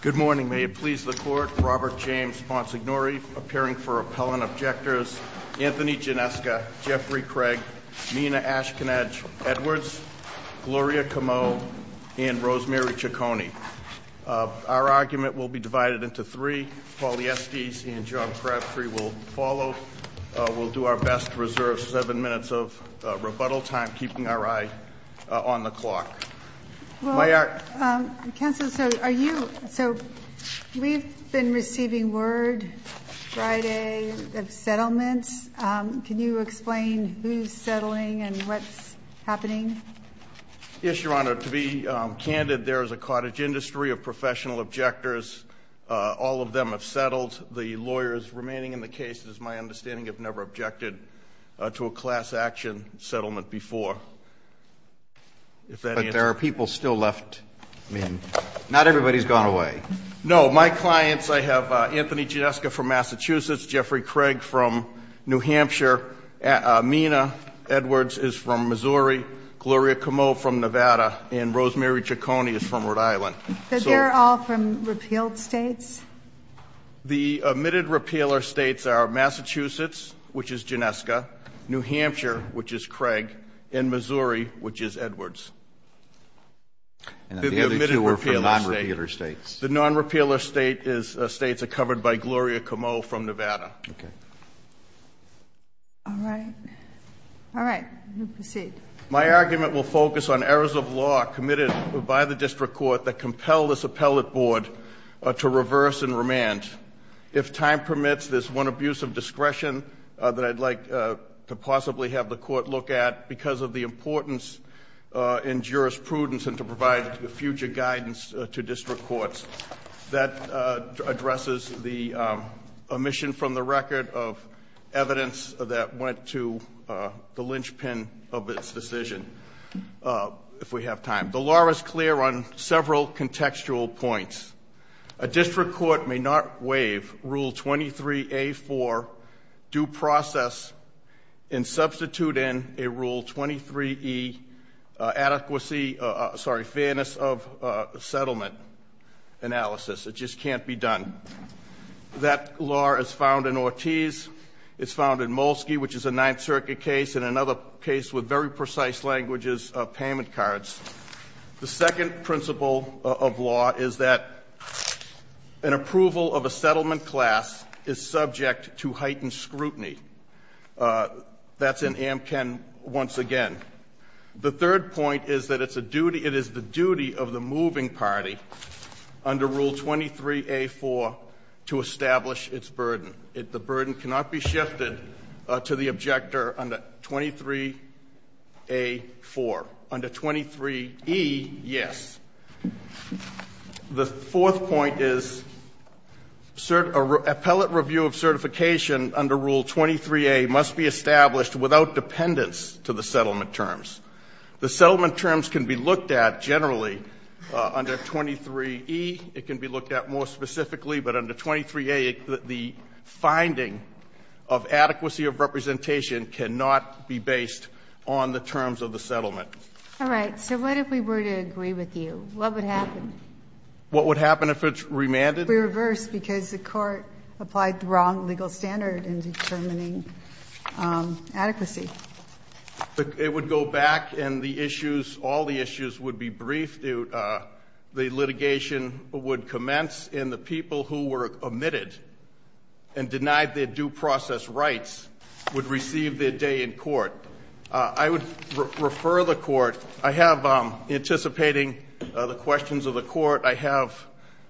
Good morning. May it please the Court, Robert James Monsignori, appearing for Appellant Objectors, Anthony Gineska, Jeffrey Craig, Nina Ashkenaz Edwards, Gloria Comeau, and Rosemary Ciccone. Our argument will be divided into three. Paul Yeske and John Crabtree will follow. We'll do our best to reserve seven minutes of rebuttal time, keeping our eye on the clock. Counsel, we've been receiving word Friday of settlement. Can you explain who's settling and what's happening? Yes, Your Honor. To be candid, there is a cottage industry of professional objectors. All of them have settled. The lawyers remaining in the case, it is my understanding, have never objected to a class action settlement before. But there are people still left. I mean, not everybody's gone away. No, my clients, I have Anthony Gineska from Massachusetts, Jeffrey Craig from New Hampshire, Nina Edwards is from Missouri, Gloria Comeau from Nevada, and Rosemary Ciccone is from Rhode Island. So they're all from repealed states? The admitted repealer states are Massachusetts, which is Gineska, New Hampshire, which is Craig, and Missouri, which is Edwards. And the other two are from non-repealer states? The non-repealer states are covered by Gloria Comeau from Nevada. Okay. All right. All right. Please proceed. My argument will focus on errors of law committed by the district court that compel this appellate board to reverse and remand. If time permits, there's one abuse of discretion that I'd like to possibly have the court look at because of the importance in jurisprudence and to provide future guidance to district courts. That addresses the omission from the record of evidence that went to the linchpin of this decision, if we have time. The law is clear on several contextual points. A district court may not waive Rule 23A-4 due process in substituting a Rule 23E adequacy, sorry, fairness of settlement analysis. It just can't be done. That law is found in Ortiz. It's found in Molsky, which is a Ninth Circuit case and another case with very precise languages of payment cards. The second principle of law is that an approval of a settlement class is subject to heightened scrutiny. That's in Amken once again. The third point is that it is the duty of the moving party under Rule 23A-4 to establish its burden. The burden cannot be shifted to the objector under 23A-4. Under 23E, yes. The fourth point is appellate review of certification under Rule 23A must be established without dependence to the settlement terms. The settlement terms can be looked at generally under 23E. It can be looked at more specifically, but under 23A, the finding of adequacy of representation cannot be based on the terms of the settlement. All right. So what if we were to agree with you? What would happen? What would happen if it's remanded? It would be reversed because the court applied the wrong legal standard in determining adequacy. It would go back and the issues, all the issues would be briefed. The litigation would commence and the people who were omitted and denied their due process rights would receive their day in court. I would refer the court. I have, anticipating the questions of the court, I have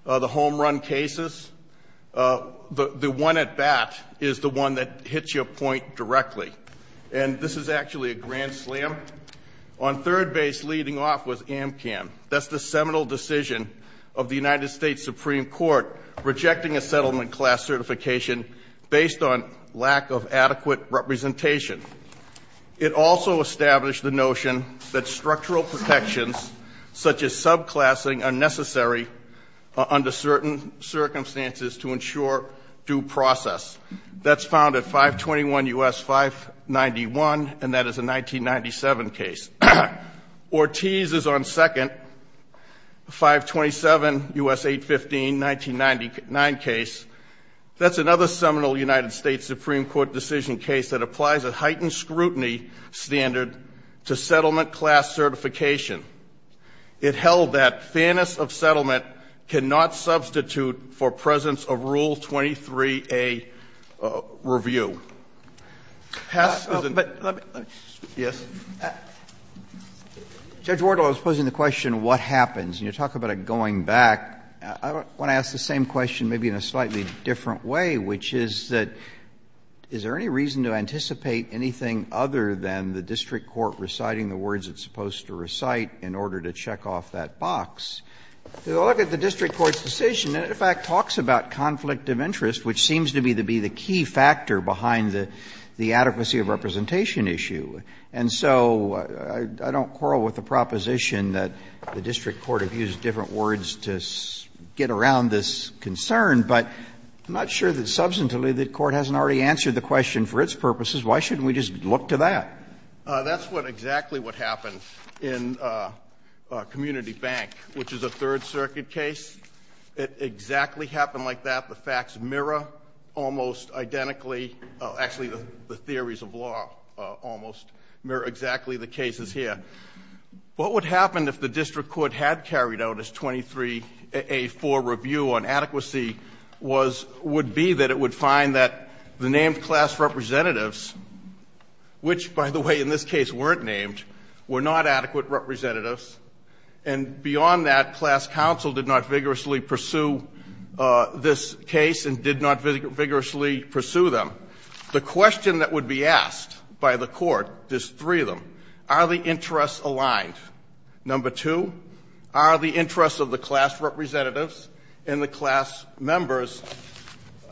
the home-run cases. The one at bat is the one that hits your point directly, and this is actually a grand slam. On third base leading off was AMCAM. That's the seminal decision of the United States Supreme Court rejecting a settlement class certification based on lack of adequate representation. It also established the notion that structural protections such as subclassing are necessary under certain circumstances to ensure due process. That's found at 521 U.S. 591, and that is a 1997 case. Ortiz is on second, 527 U.S. 815, 1999 case. That's another seminal United States Supreme Court decision case that applies a heightened scrutiny standard to settlement class certification. It held that fairness of settlement cannot substitute for presence of Rule 23A review. Judge Wardle, I was posing the question, what happens? You talk about it going back. I want to ask the same question maybe in a slightly different way, which is that is there any reason to anticipate anything other than the district court reciting the words it's supposed to recite in order to check off that box? If you look at the district court's decision, it, in fact, talks about conflict of interest, which seems to me to be the key factor behind the adequacy of representation issue. And so I don't quarrel with the proposition that the district court has used different words to get around this concern, but I'm not sure that substantively the court hasn't already answered the question for its purposes. Why shouldn't we just look to that? That's exactly what happens in Community Bank, which is a Third Circuit case. It exactly happened like that. The facts mirror almost identically. Actually, the theories of law almost mirror exactly the cases here. What would happen if the district court had carried out its 23A4 review on adequacy would be that it would find that the named class representatives, which, by the way, in this case weren't named, were not adequate representatives. And beyond that, class counsel did not vigorously pursue this case and did not vigorously pursue them. The question that would be asked by the court is three of them. Are the interests aligned? Number two, are the interests of the class representatives and the class members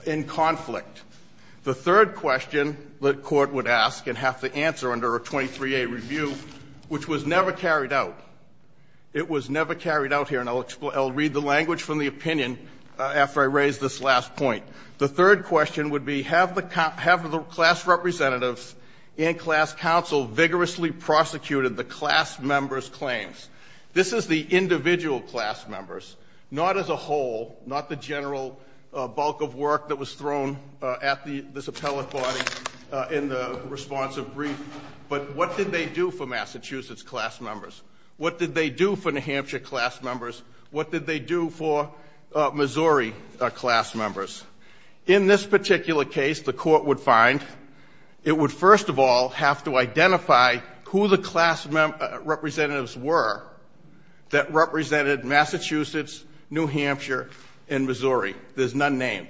in conflict? The third question the court would ask and have to answer under a 23A review, which was never carried out, it was never carried out here, and I'll read the language from the opinion after I raise this last point. The third question would be, have the class representatives and class counsel vigorously prosecuted the class members' claims? This is the individual class members, not as a whole, not the general bulk of work that was thrown at this appellate body in the response of brief. But what did they do for Massachusetts class members? What did they do for New Hampshire class members? What did they do for Missouri class members? In this particular case, the court would find it would first of all have to identify who the class representatives were that represented Massachusetts, New Hampshire, and Missouri. There's none named.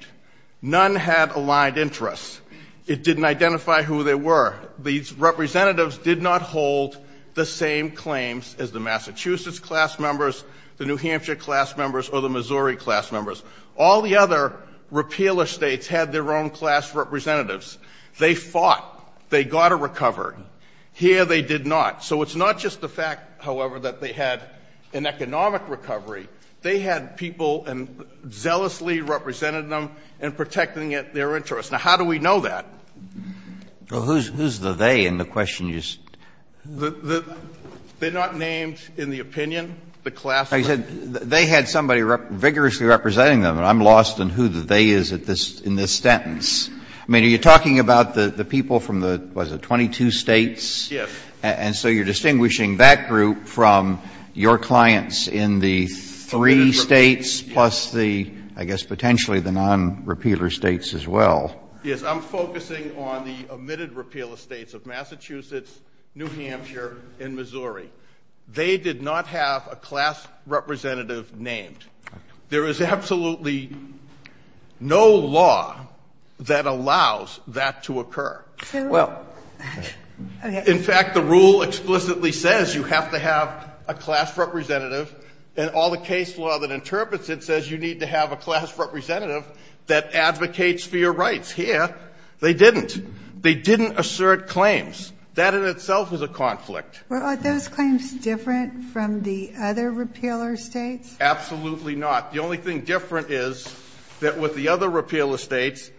None had aligned interests. It didn't identify who they were. These representatives did not hold the same claims as the Massachusetts class members, the New Hampshire class members, or the Missouri class members. All the other repealer states had their own class representatives. They fought. They got to recover. Here they did not. So it's not just the fact, however, that they had an economic recovery. They had people and zealously represented them in protecting their interests. Now, how do we know that? Well, who's the they in the question you asked? They're not named in the opinion. I said they had somebody vigorously representing them, and I'm lost in who the they is in this sentence. I mean, are you talking about the people from the, what is it, 22 states? Yes. And so you're distinguishing that group from your clients in the three states plus the, I guess, potentially the non-repealer states as well. Yes, I'm focusing on the omitted repealer states of Massachusetts, New Hampshire, and Missouri. They did not have a class representative named. There is absolutely no law that allows that to occur. Well, in fact, the rule explicitly says you have to have a class representative, and all the case law that interprets it says you need to have a class representative that advocates for your rights. Here, they didn't. They didn't assert claims. That in itself is a conflict. Well, are those claims different from the other repealer states? Absolutely not. The only thing different is that with the other repealer states,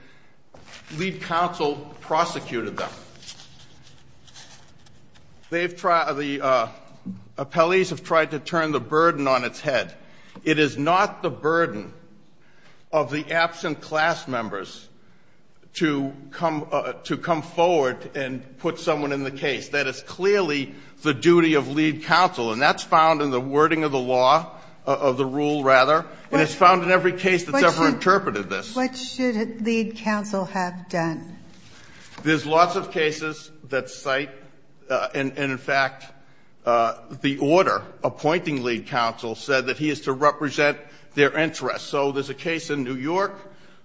lead counsel prosecuted them. The appellees have tried to turn the burden on its head. It is not the burden of the absent class members to come forward and put someone in the case. That is clearly the duty of lead counsel, and that's found in the wording of the law, of the rule, rather, and it's found in every case that's ever interpreted this. What should lead counsel have done? There's lots of cases that cite, and in fact, the order appointing lead counsel said that he is to represent their interests. So there's a case in New York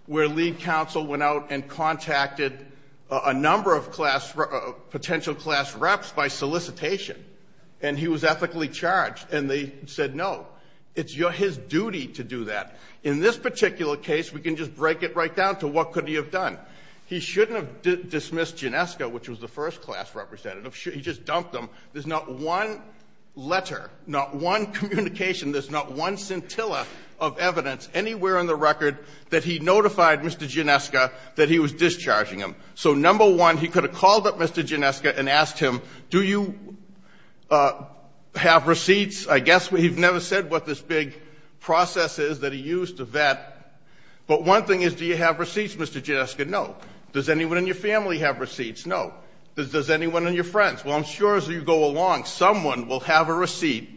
where lead counsel went out and contacted a number of potential class reps by solicitation, and he was ethically charged, and they said no. It's his duty to do that. In this particular case, we can just break it right down to what could he have done. He shouldn't have dismissed Gineska, which was the first class representative. He just dumped them. There's not one letter, not one communication, there's not one scintilla of evidence anywhere on the record that he notified Mr. Gineska that he was discharging him. So number one, he could have called up Mr. Gineska and asked him, do you have receipts? I guess he never said what this big process is that he used to vet, but one thing is, do you have receipts, Mr. Gineska? No. Does anyone in your family have receipts? No. Does anyone in your friends? Well, I'm sure as you go along, someone will have a receipt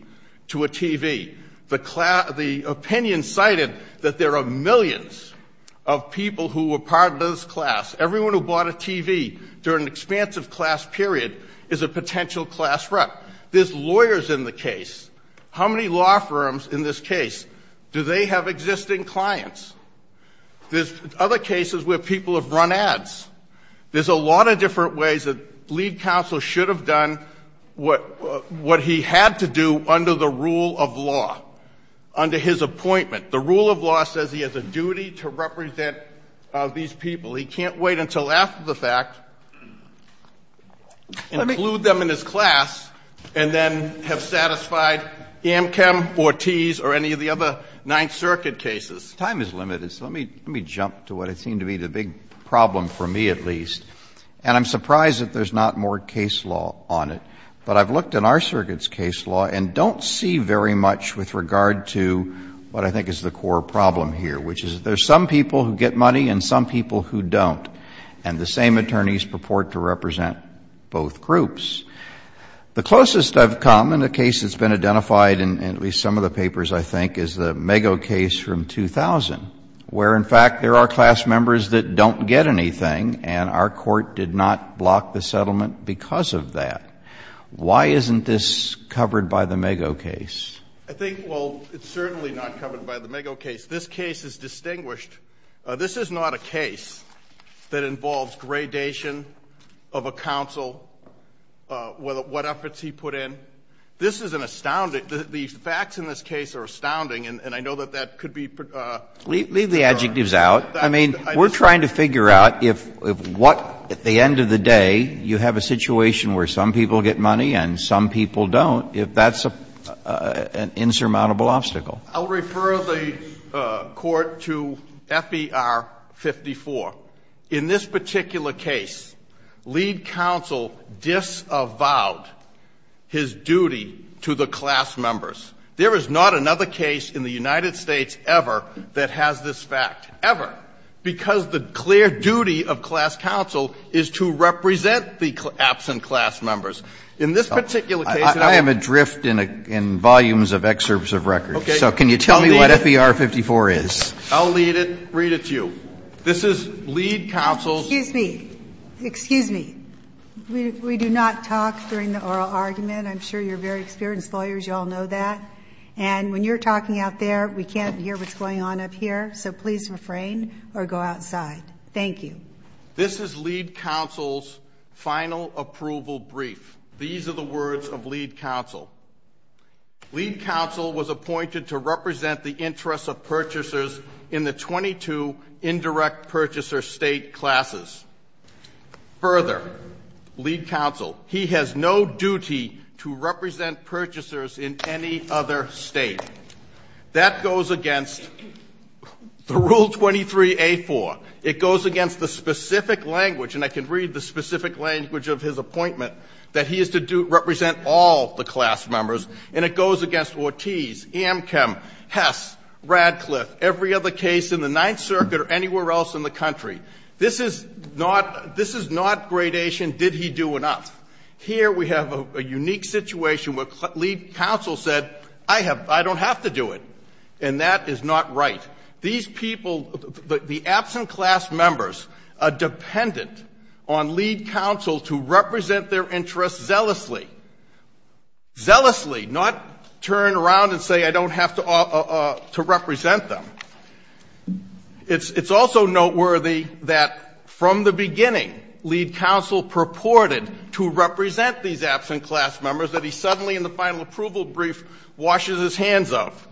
to a TV. The opinion cited that there are millions of people who were part of this class. Everyone who bought a TV during the expansive class period is a potential class rep. There's lawyers in the case. How many law firms in this case? Do they have existing clients? There's other cases where people have run ads. There's a lot of different ways that lead counsel should have done what he had to do under the rule of law, under his appointment. The rule of law says he has a duty to represent these people. He can't wait until after the fact, include them in his class, and then have satisfied Amchem or Tees or any of the other Ninth Circuit cases. Time is limited, so let me jump to what I think to be the big problem for me at least. And I'm surprised that there's not more case law on it. But I've looked in our circuit's case law and don't see very much with regard to what I think is the core problem here, which is there's some people who get money and some people who don't. And the same attorneys purport to represent both groups. The closest I've come in a case that's been identified in at least some of the papers, I think, is the Mago case from 2000, where, in fact, there are class members that don't get anything, and our court did not block the settlement because of that. Why isn't this covered by the Mago case? I think, well, it's certainly not covered by the Mago case. This case is distinguished. This is not a case that involves gradation of a counsel, what efforts he put in. This is an astounding, the facts in this case are astounding, and I know that that could be. Leave the adjectives out. I mean, we're trying to figure out if what, at the end of the day, you have a situation where some people get money and some people don't, if that's an insurmountable obstacle. I'll refer the court to F.E.R. 54. In this particular case, lead counsel disavowed his duty to the class members. There is not another case in the United States ever that has this fact, ever, because the clear duty of class counsel is to represent the absent class members. I am adrift in volumes of excerpts of records, so can you tell me what F.E.R. 54 is? I'll read it to you. This is lead counsel's... Excuse me. We do not talk during the oral argument. I'm sure you're very experienced lawyers, you all know that. And when you're talking out there, we can't hear what's going on up here, so please refrain or go outside. Thank you. This is lead counsel's final approval brief. These are the words of lead counsel. Lead counsel was appointed to represent the interests of purchasers in the 22 indirect purchaser state classes. Further, lead counsel, he has no duty to represent purchasers in any other state. That goes against the Rule 23-A-4. It goes against the specific language, and I can read the specific language of his appointment, that he is to represent all the class members, and it goes against Ortiz, Amchem, Hess, Radcliffe, every other case in the Ninth Circuit or anywhere else in the country. This is not gradation, did he do enough. Here we have a unique situation where lead counsel said, I don't have to do it, and that is not right. These people, the absent class members are dependent on lead counsel to represent their interests zealously. Zealously, not turn around and say, I don't have to represent them. It's also noteworthy that from the beginning, lead counsel purported to represent these absent class members that he suddenly in the final approval brief washes his hands of.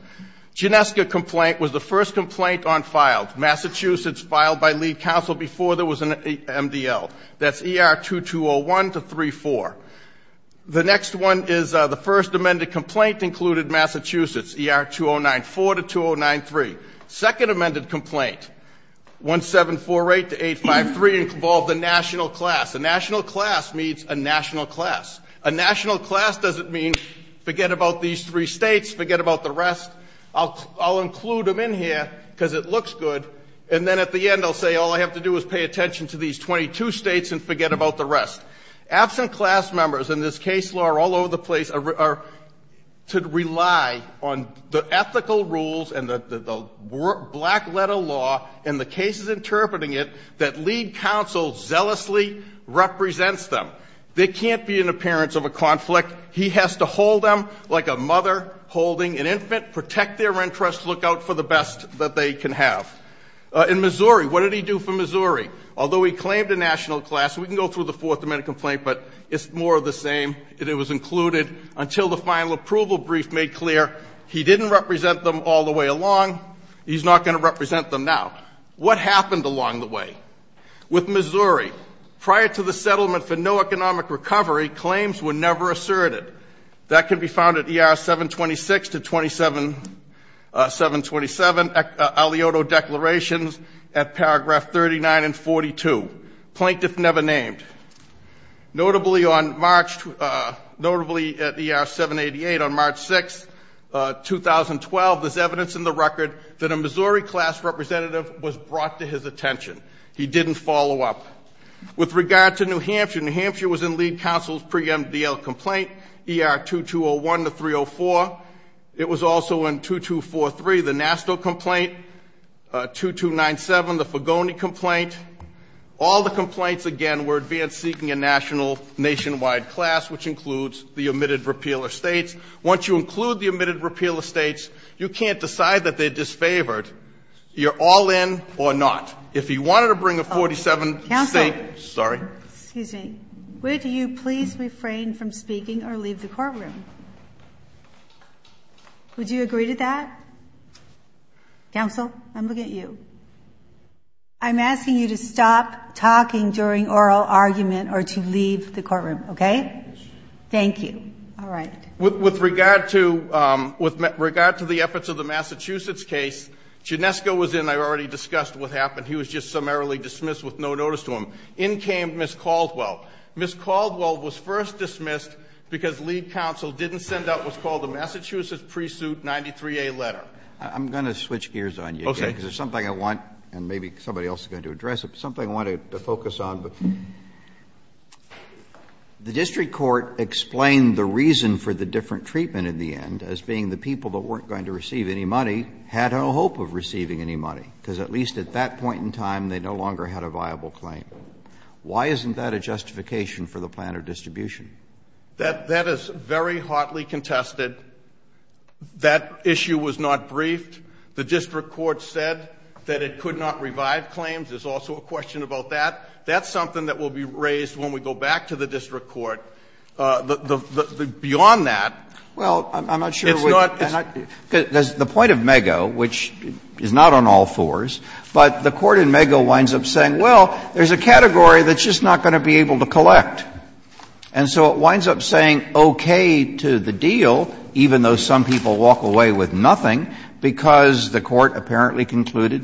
Genesca complaint was the first complaint on file. Massachusetts filed by lead counsel before there was an MDL. That's ER 2201-34. The next one is the first amended complaint included Massachusetts, ER 2094-2093. Second amended complaint, 1748-853, involved a national class. A national class means a national class. A national class doesn't mean forget about these three states, forget about the rest. I'll include them in here because it looks good, and then at the end I'll say all I have to do is pay attention to these 22 states and forget about the rest. Absent class members in this case law are all over the place, are to rely on the ethical rules and the black letter law and the cases interpreting it that lead counsel zealously represents them. They can't be an appearance of a conflict. He has to hold them like a mother holding an infant, protect their interests, look out for the best that they can have. In Missouri, what did he do for Missouri? Although he claimed a national class, we can go through the fourth amended complaint, but it's more of the same, it was included until the final approval brief made clear he didn't represent them all the way along, he's not going to represent them now. What happened along the way? With Missouri, prior to the settlement for no economic recovery, claims were never asserted. That can be found at ER 726 to 727, Alioto declarations at paragraph 39 and 42. Plaintiff never named. Notably at ER 788 on March 6, 2012, there's evidence in the record that a Missouri class representative was brought to his attention. He didn't follow up. With regard to New Hampshire, New Hampshire was in lead counsel's pre-MDL complaint, ER 2201 to 304. It was also in 2243, the NASDAQ complaint, 2297, the Fogoni complaint. All the complaints, again, were advanced seeking a national nationwide class, which includes the omitted repeal of states. Once you include the omitted repeal of states, you can't decide that they're disfavored. You're all in or not. If he wanted to bring a 47 state, sorry. Excuse me. Would you please refrain from speaking or leave the courtroom? Would you agree to that? Counsel, I'm looking at you. I'm asking you to stop talking during oral argument or to leave the courtroom, okay? Thank you. All right. With regard to the efforts of the Massachusetts case, Chinesco was in, I already discussed what happened. He was just summarily dismissed with no notice to him. In came Ms. Caldwell. Ms. Caldwell was first dismissed because lead counsel didn't send out what's called the Massachusetts pre-suit 93A letter. I'm going to switch gears on you. Okay. Because there's something I want, and maybe somebody else is going to address it, something I want to focus on. The district court explained the reason for the different treatment in the end as being the people that weren't going to receive any money had no hope of receiving any money. Because at least at that point in time, they no longer had a viable claim. Why isn't that a justification for the plan of distribution? That is very hotly contested. That issue was not briefed. The district court said that it could not revive claims. There's also a question about that. That's something that will be raised when we go back to the district court. Beyond that. Well, I'm not sure. The point of MAGO, which is not on all fours, but the court in MAGO winds up saying, well, there's a category that's just not going to be able to collect. And so it winds up saying okay to the deal, even though some people walk away with nothing, because the court apparently concluded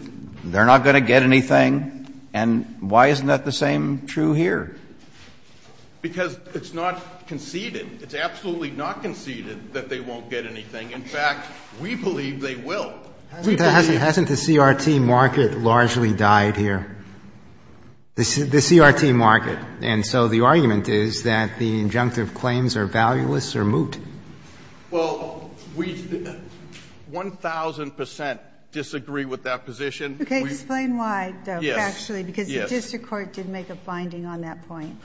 they're not going to get anything, and why isn't that the same true here? Because it's not conceded. It's absolutely not conceded that they won't get anything. In fact, we believe they will. Hasn't the CRT market largely died here? The CRT market. And so the argument is that the injunctive claims are valueless or moot. Well, we 1,000% disagree with that position. Okay, explain why, actually, because the district court did make a finding on that point.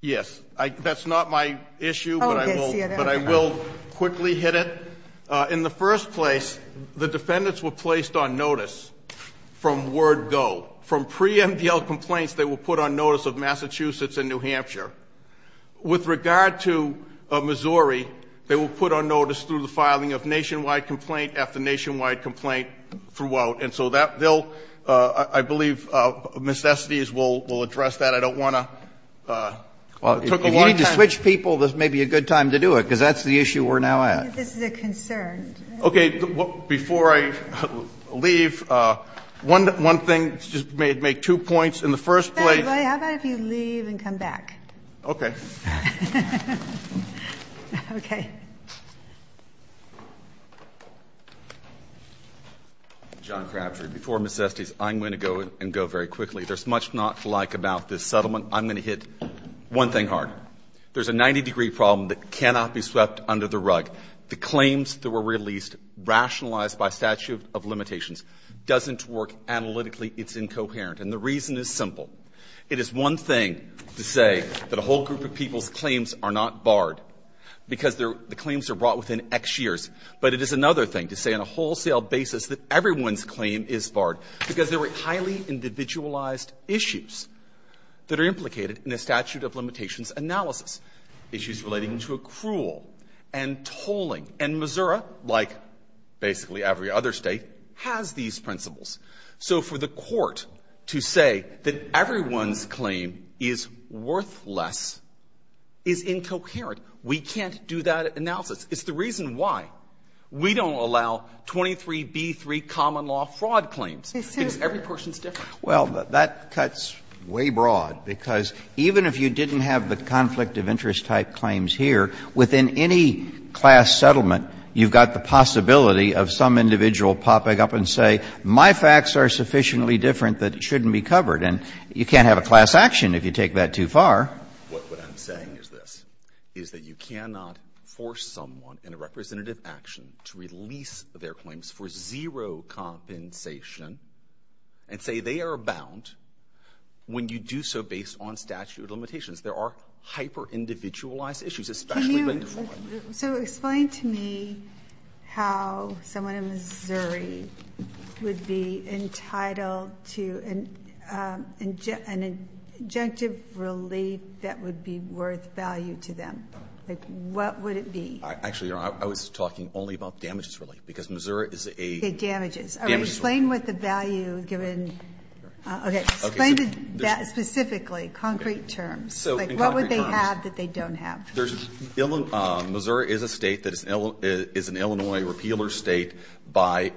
Yes. That's not my issue, but I will quickly hit it. In the first place, the defendants were placed on notice from word go. From pre-MDL complaints, they were put on notice of Massachusetts and New Hampshire. With regard to Missouri, they were put on notice through the filing of nationwide complaint at the nationwide complaint throughout. And so that bill, I believe, necessities will address that. I don't want to take a long time. If you need to switch people, this may be a good time to do it, because that's the issue we're now at. This is a concern. Okay, before I leave, one thing. Let's just make two points in the first place. How about if you leave and come back? Okay. John Cranford, before Ms. Estes, I'm going to go very quickly. There's much not to like about this settlement. I'm going to hit one thing hard. There's a 90-degree problem that cannot be swept under the rug. The claims that were released, rationalized by statute of limitations, doesn't work analytically. It's incoherent. And the reason is simple. It is one thing to say that a whole group of people claims are not barred, because the claims are brought within X years. But it is another thing to say on a wholesale basis that everyone's claim is barred, because there are highly individualized issues that are implicated in a statute of limitations analysis, issues relating to accrual and tolling. And Missouri, like basically every other state, has these principles. So for the court to say that everyone's claim is worthless is incoherent. We can't do that analysis. It's the reason why we don't allow 23B3 common law fraud claims. Every person is different. Well, that cuts way broad, because even if you didn't have the conflict of interest type claims here, within any class settlement, you've got the possibility of some individual popping up and saying, okay, my facts are sufficiently different that it shouldn't be covered. And you can't have a class action if you take that too far. What I'm saying is this, is that you cannot force someone in a representative action to release their claims for zero compensation and say they are bound when you do so based on statute of limitations. There are hyper-individualized issues. So explain to me how someone in Missouri would be entitled to an injunctive relief that would be worth value to them. What would it be? Actually, I was talking only about damages relief, because Missouri is a ____. Damages. Explain what the value given ____. Explain that specifically, concrete terms. What would they have that they don't have? Missouri is a state that is an Illinois repealer state by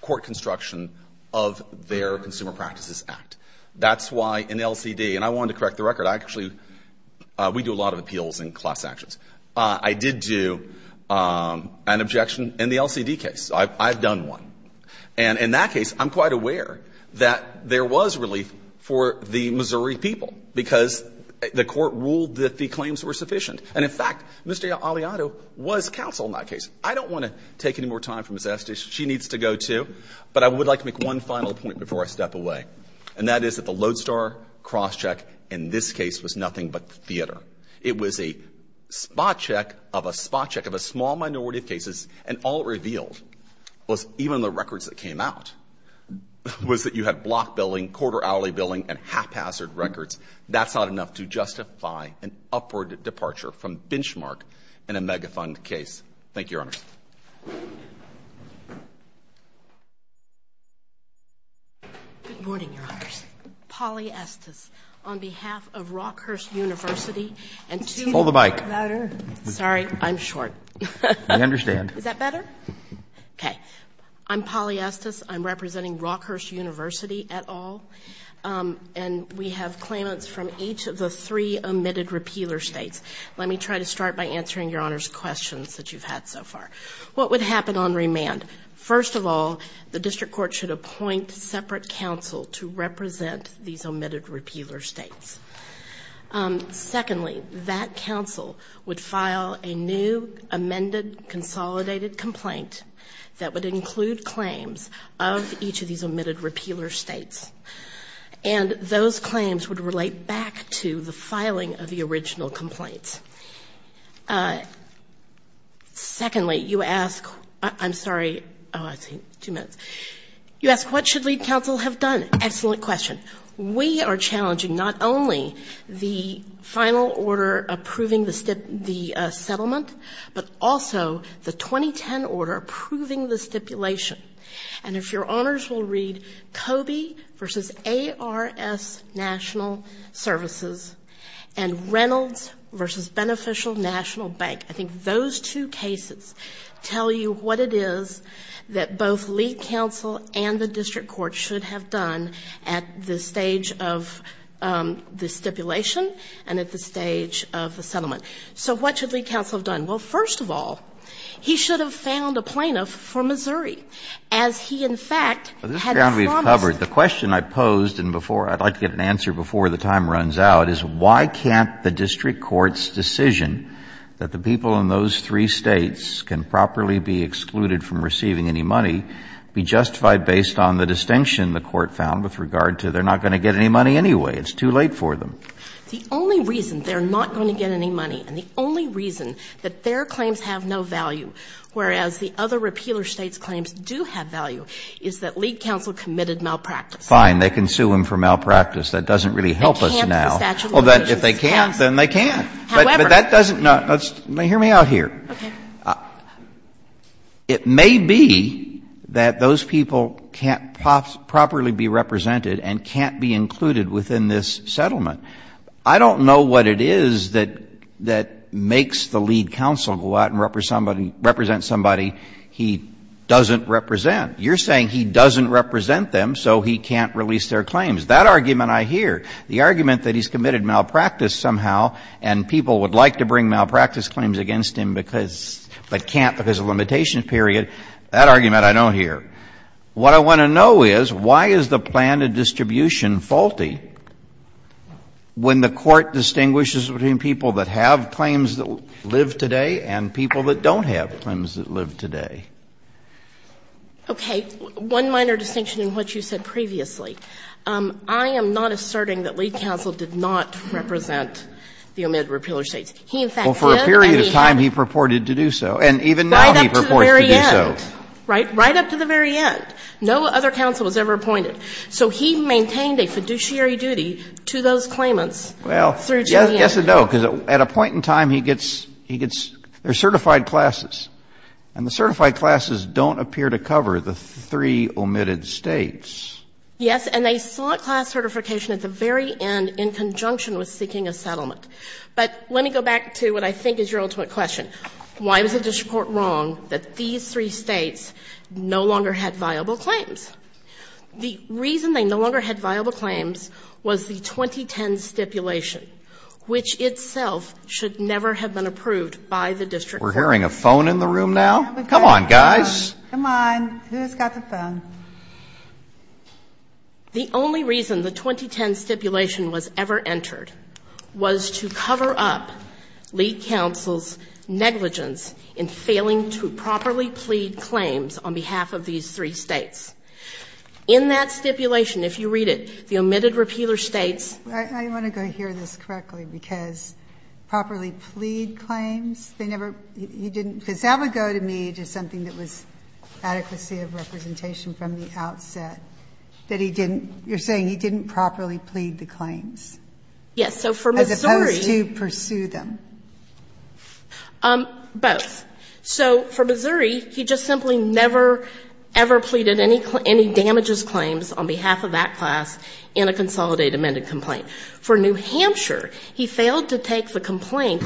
court construction of their Consumer Practices Act. That's why an LCD, and I wanted to correct the record. Actually, we do a lot of appeals and class actions. I did do an objection in the LCD case. I've done one. In that case, I'm quite aware that there was relief for the Missouri people, because the court ruled that the claims were sufficient. In fact, Mr. Aliotto was counsel in that case. I don't want to take any more time from Ms. Estes. She needs to go too, but I would like to make one final point before I step away, and that is that the Lodestar cross-check in this case was nothing but theater. It was a spot check of a small minority of cases, and all it revealed was that even the records that came out was that you had block billing, quarter hourly billing, and haphazard records. That's not enough to justify an upward departure from benchmark in a megafund case. Thank you, Your Honor. Good morning, Your Honor. Polly Estes on behalf of Rockhurst University. Hold the mic. Sorry, I'm short. I understand. Is that better? Okay. I'm Polly Estes. I'm representing Rockhurst University et al., and we have claimants from each of the three omitted repealer states. Let me try to start by answering Your Honor's questions that you've had so far. What would happen on remand? First of all, the district court should appoint separate counsel to represent these omitted repealer states. Secondly, that counsel would file a new amended consolidated complaint that would include claims of each of these omitted repealer states, and those claims would relate back to the filing of the original complaint. Secondly, you ask what should lead counsel have done? Excellent question. We are challenging not only the final order approving the settlement, but also the 2010 order approving the stipulation. And if Your Honors will read, Coby v. ARS National Services and Reynolds v. Beneficial National Bank, I think those two cases tell you what it is that both lead counsel and the district court should have done at the stage of the stipulation and at the stage of the settlement. So what should lead counsel have done? Well, first of all, he should have found a plaintiff for Missouri, as he in fact had promised. The question I posed, and I'd like to get an answer before the time runs out, is why can't the district court's decision that the people in those three states can properly be excluded from receiving any money be justified based on the distinction the court found with regard to they're not going to get any money anyway. It's too late for them. The only reason they're not going to get any money and the only reason that their claims have no value, whereas the other repealer states' claims do have value, is that lead counsel committed malpractice. Fine, they can sue him for malpractice. That doesn't really help us now. They can't for statute of limitations. Well, if they can't, then they can't. However. But that doesn't, now, hear me out here. It may be that those people can't properly be represented and can't be included within this settlement. I don't know what it is that makes the lead counsel go out and represent somebody he doesn't represent. You're saying he doesn't represent them, so he can't release their claims. That argument I hear. The argument that he's committed malpractice somehow and people would like to bring malpractice claims against him but can't because of limitations, period. That argument I don't hear. What I want to know is, why is the plan of distribution faulty when the court distinguishes between people that have claims that live today and people that don't have claims that live today? Okay. One minor distinction in what you said previously. I am not asserting that lead counsel did not represent the omitted repealer states. Well, for a period of time he purported to do so. And even now he purports to do so. Right up to the very end. No other counsel was ever appointed. So he maintained a fiduciary duty to those claimants. Well, yes and no. Because at a point in time, there are certified classes. And the certified classes don't appear to cover the three omitted states. Yes, and they sought class certification at the very end in conjunction with seeking a settlement. But let me go back to what I think is your ultimate question. Why was the district court wrong that these three states no longer had viable claims? The reason they no longer had viable claims was the 2010 stipulation, We're hearing a phone in the room now. Come on, guys. Come on. Who's got the phone? The only reason the 2010 stipulation was ever entered was to cover up lead counsel's negligence in failing to properly plead claims on behalf of these three states. In that stipulation, if you read it, the omitted repealer states, I want to go hear this correctly, because properly plead claims, they never, he didn't, because that would go to me as something that was out of the state of representation from the outset, that he didn't, you're saying he didn't properly plead the claims. Yes, so for Missouri, As opposed to pursue them. Both. So for Missouri, he just simply never, ever pleaded any damages claims on behalf of that class in a consolidated amended complaint. For New Hampshire, he failed to take the complaint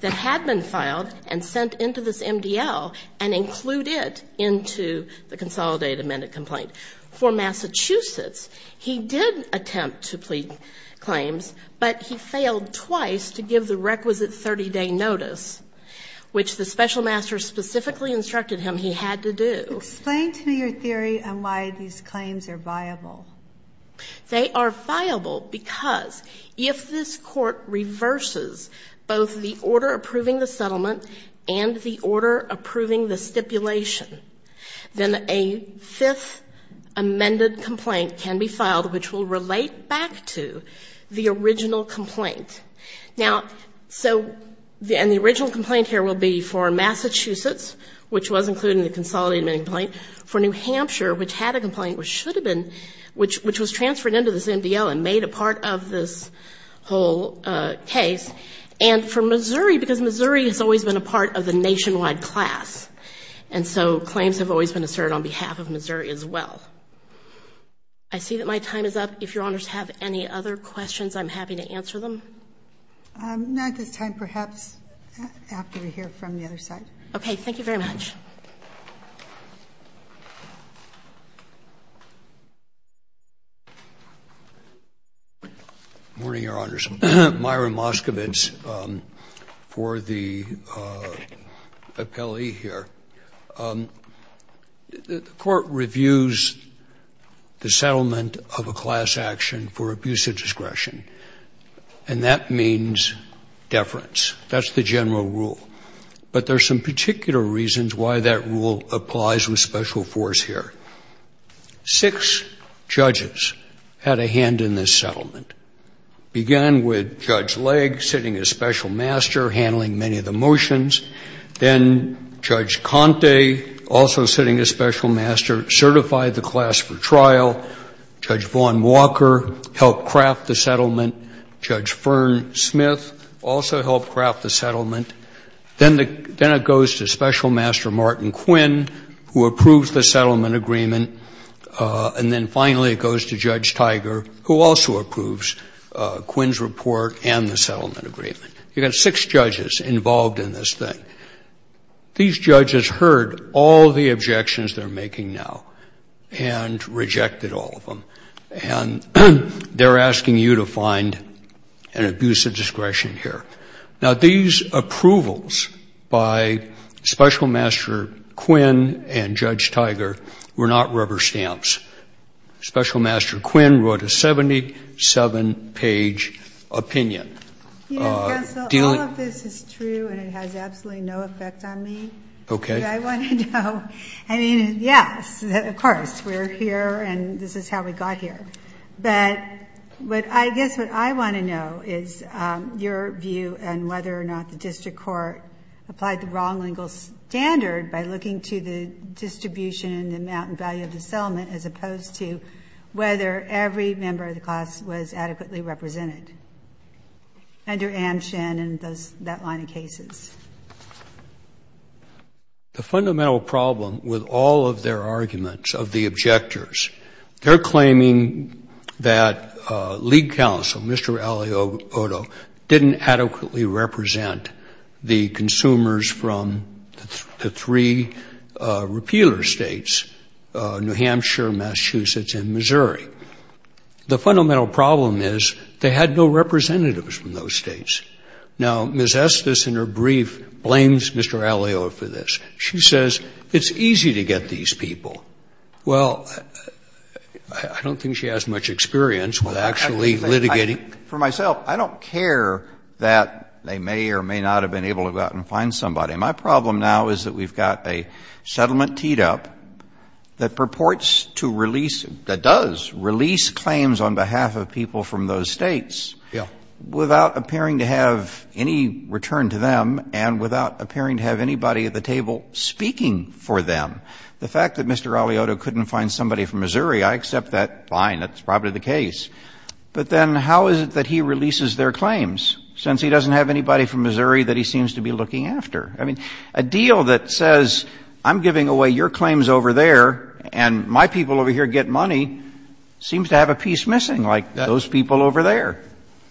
that had been filed and sent into this MDL and include it into the consolidated amended complaint. For Massachusetts, he did attempt to plead claims, but he failed twice to give the requisite 30-day notice, which the special master specifically instructed him he had to do. Explain to me your theory on why these claims are viable. They are viable because if this court reverses both the order approving the settlement and the order approving the stipulation, then a fifth amended complaint can be filed, which will relate back to the original complaint. Now, so, and the original complaint here would be for Massachusetts, which was included in the consolidated amended complaint, for New Hampshire, which had a complaint, which should have been, which was transferred into this MDL and made a part of this whole case, and for Missouri, because Missouri has always been a part of the nationwide class, and so claims have always been asserted on behalf of Missouri as well. I see that my time is up. If your honors have any other questions, I'm happy to answer them. Not at this time, perhaps after we hear from the other side. Okay, thank you very much. Good morning, your honors. Myron Moskovitz for the appellee here. The court reviews the settlement of a class action for abuse of discretion, and that means deference. That's the general rule. But there's some particular reasons why that rule applies with special force here. Six judges had a hand in this settlement. It began with Judge Legg, sitting as special master, handling many of the motions. Then Judge Conte, also sitting as special master, certified the class for trial. Judge Fern Smith also helped craft the settlement. Then it goes to special master Martin Quinn, who approves the settlement agreement, and then finally it goes to Judge Tiger, who also approves Quinn's report and the settlement agreement. You've got six judges involved in this thing. These judges heard all the objections they're making now and rejected all of them, and they're asking you to find an abuse of discretion here. Now, these approvals by special master Quinn and Judge Tiger were not rubber stamps. Special master Quinn wrote a 77-page opinion. Yes, all of this is true, and it has absolutely no effect on me. Do I want to know? I mean, yes, of course. We're here, and this is how we got here. But I guess what I want to know is your view on whether or not the district court applied the wrong lingual standard by looking to the distribution and the amount and value of the settlement as opposed to whether every member of the class was adequately represented under Anne Shannon and that line of cases. The fundamental problem with all of their arguments of the objectors, they're claiming that lead counsel, Mr. Ali Odo, didn't adequately represent the consumers from the three repealer states, New Hampshire, Massachusetts, and Missouri. The fundamental problem is they had no representatives from those states. Now, Ms. Estes in her brief blames Mr. Ali Odo for this. She says it's easy to get these people. Well, I don't think she has much experience with actually litigating. For myself, I don't care that they may or may not have been able to go out and find somebody. My problem now is that we've got a settlement teed up that purports to release, that does release claims on behalf of people from those states without appearing to have any return to them and without appearing to have anybody at the table speaking for them. The fact that Mr. Ali Odo couldn't find somebody from Missouri, I accept that. Fine, that's probably the case. But then how is it that he releases their claims since he doesn't have anybody from Missouri that he seems to be looking after? I mean, a deal that says I'm giving away your claims over there and my people over here get money seems to have a piece missing, like those people over there.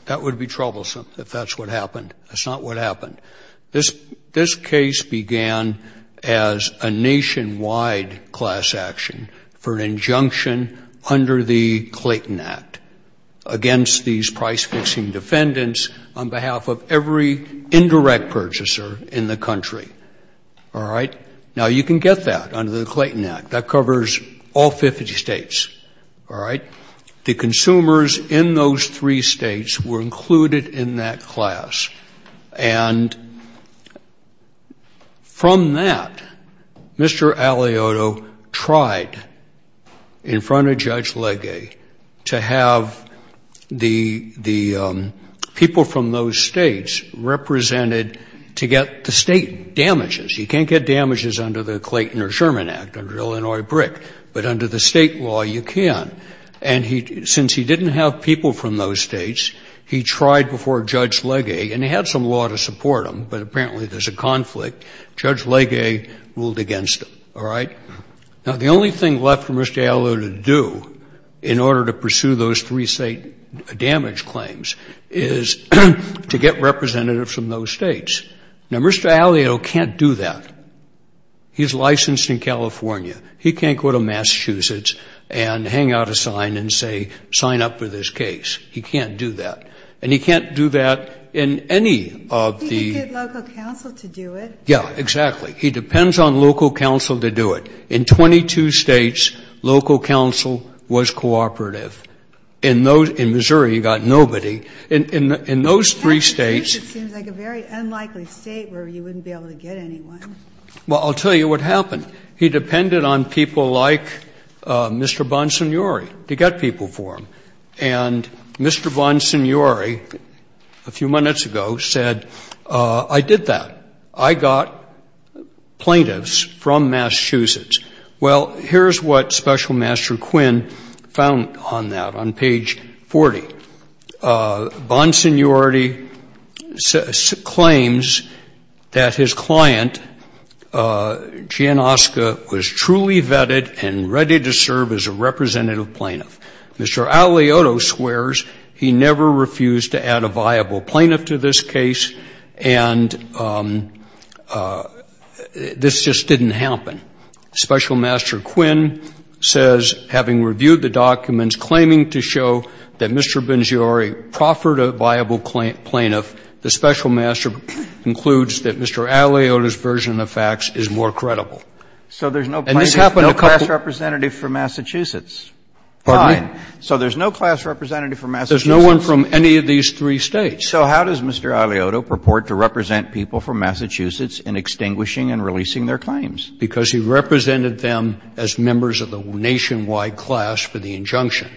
That would be troublesome if that's what happened. That's not what happened. This case began as a nationwide class action for an injunction under the Clayton Act against these price-fixing defendants on behalf of every indirect purchaser in the country. Now, you can get that under the Clayton Act. That covers all 50 states. The consumers in those three states were included in that class. And from that, Mr. Ali Odo tried in front of Judge Legge to have the people from those states represented to get the state damages. You can't get damages under the Clayton or Sherman Act under Illinois BRIC, but under the state law you can. And since he didn't have people from those states, he tried before Judge Legge, and he had some law to support him, but apparently there's a conflict. Judge Legge ruled against him. Now, the only thing left for Mr. Ali Odo to do in order to pursue those three-state damage claims is to get representatives from those states. Now, Mr. Ali Odo can't do that. He's licensed in California. He can't go to Massachusetts and hang out a sign and say, sign up for this case. He can't do that. And he can't do that in any of the... He can get local counsel to do it. Yeah, exactly. He depends on local counsel to do it. In 22 states, local counsel was cooperative. In Missouri, he got nobody. In those three states... Massachusetts seems like a very unlikely state where you wouldn't be able to get anyone. Well, I'll tell you what happened. He depended on people like Mr. Bonsignori to get people for him. And Mr. Bonsignori, a few minutes ago, said, I did that. I got plaintiffs from Massachusetts. Well, here's what Special Master Quinn found on that on page 40. Bonsignori claims that his client, Gianosca, was truly vetted and ready to serve as a representative plaintiff. Mr. Ali Odo swears he never refused to add a viable plaintiff to this case and this just didn't happen. Special Master Quinn says, having reviewed the documents, claiming to show that Mr. Bonsignori proffered a viable plaintiff, the Special Master concludes that Mr. Ali Odo's version of facts is more credible. So there's no class representative from Massachusetts? Pardon me? So there's no class representative from Massachusetts? There's no one from any of these three states. So how does Mr. Ali Odo purport to represent people from Massachusetts in extinguishing and releasing their claims? Because he represented them as members of the nationwide class for the injunction.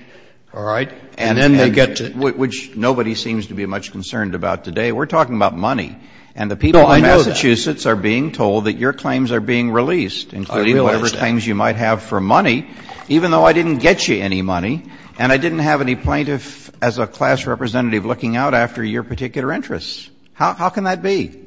All right? And then they get to... Which nobody seems to be much concerned about today. We're talking about money. And the people in Massachusetts are being told that your claims are being released, including whatever claims you might have for money, even though I didn't get you any money. And I didn't have any plaintiff as a class representative looking out after your particular interests. How can that be?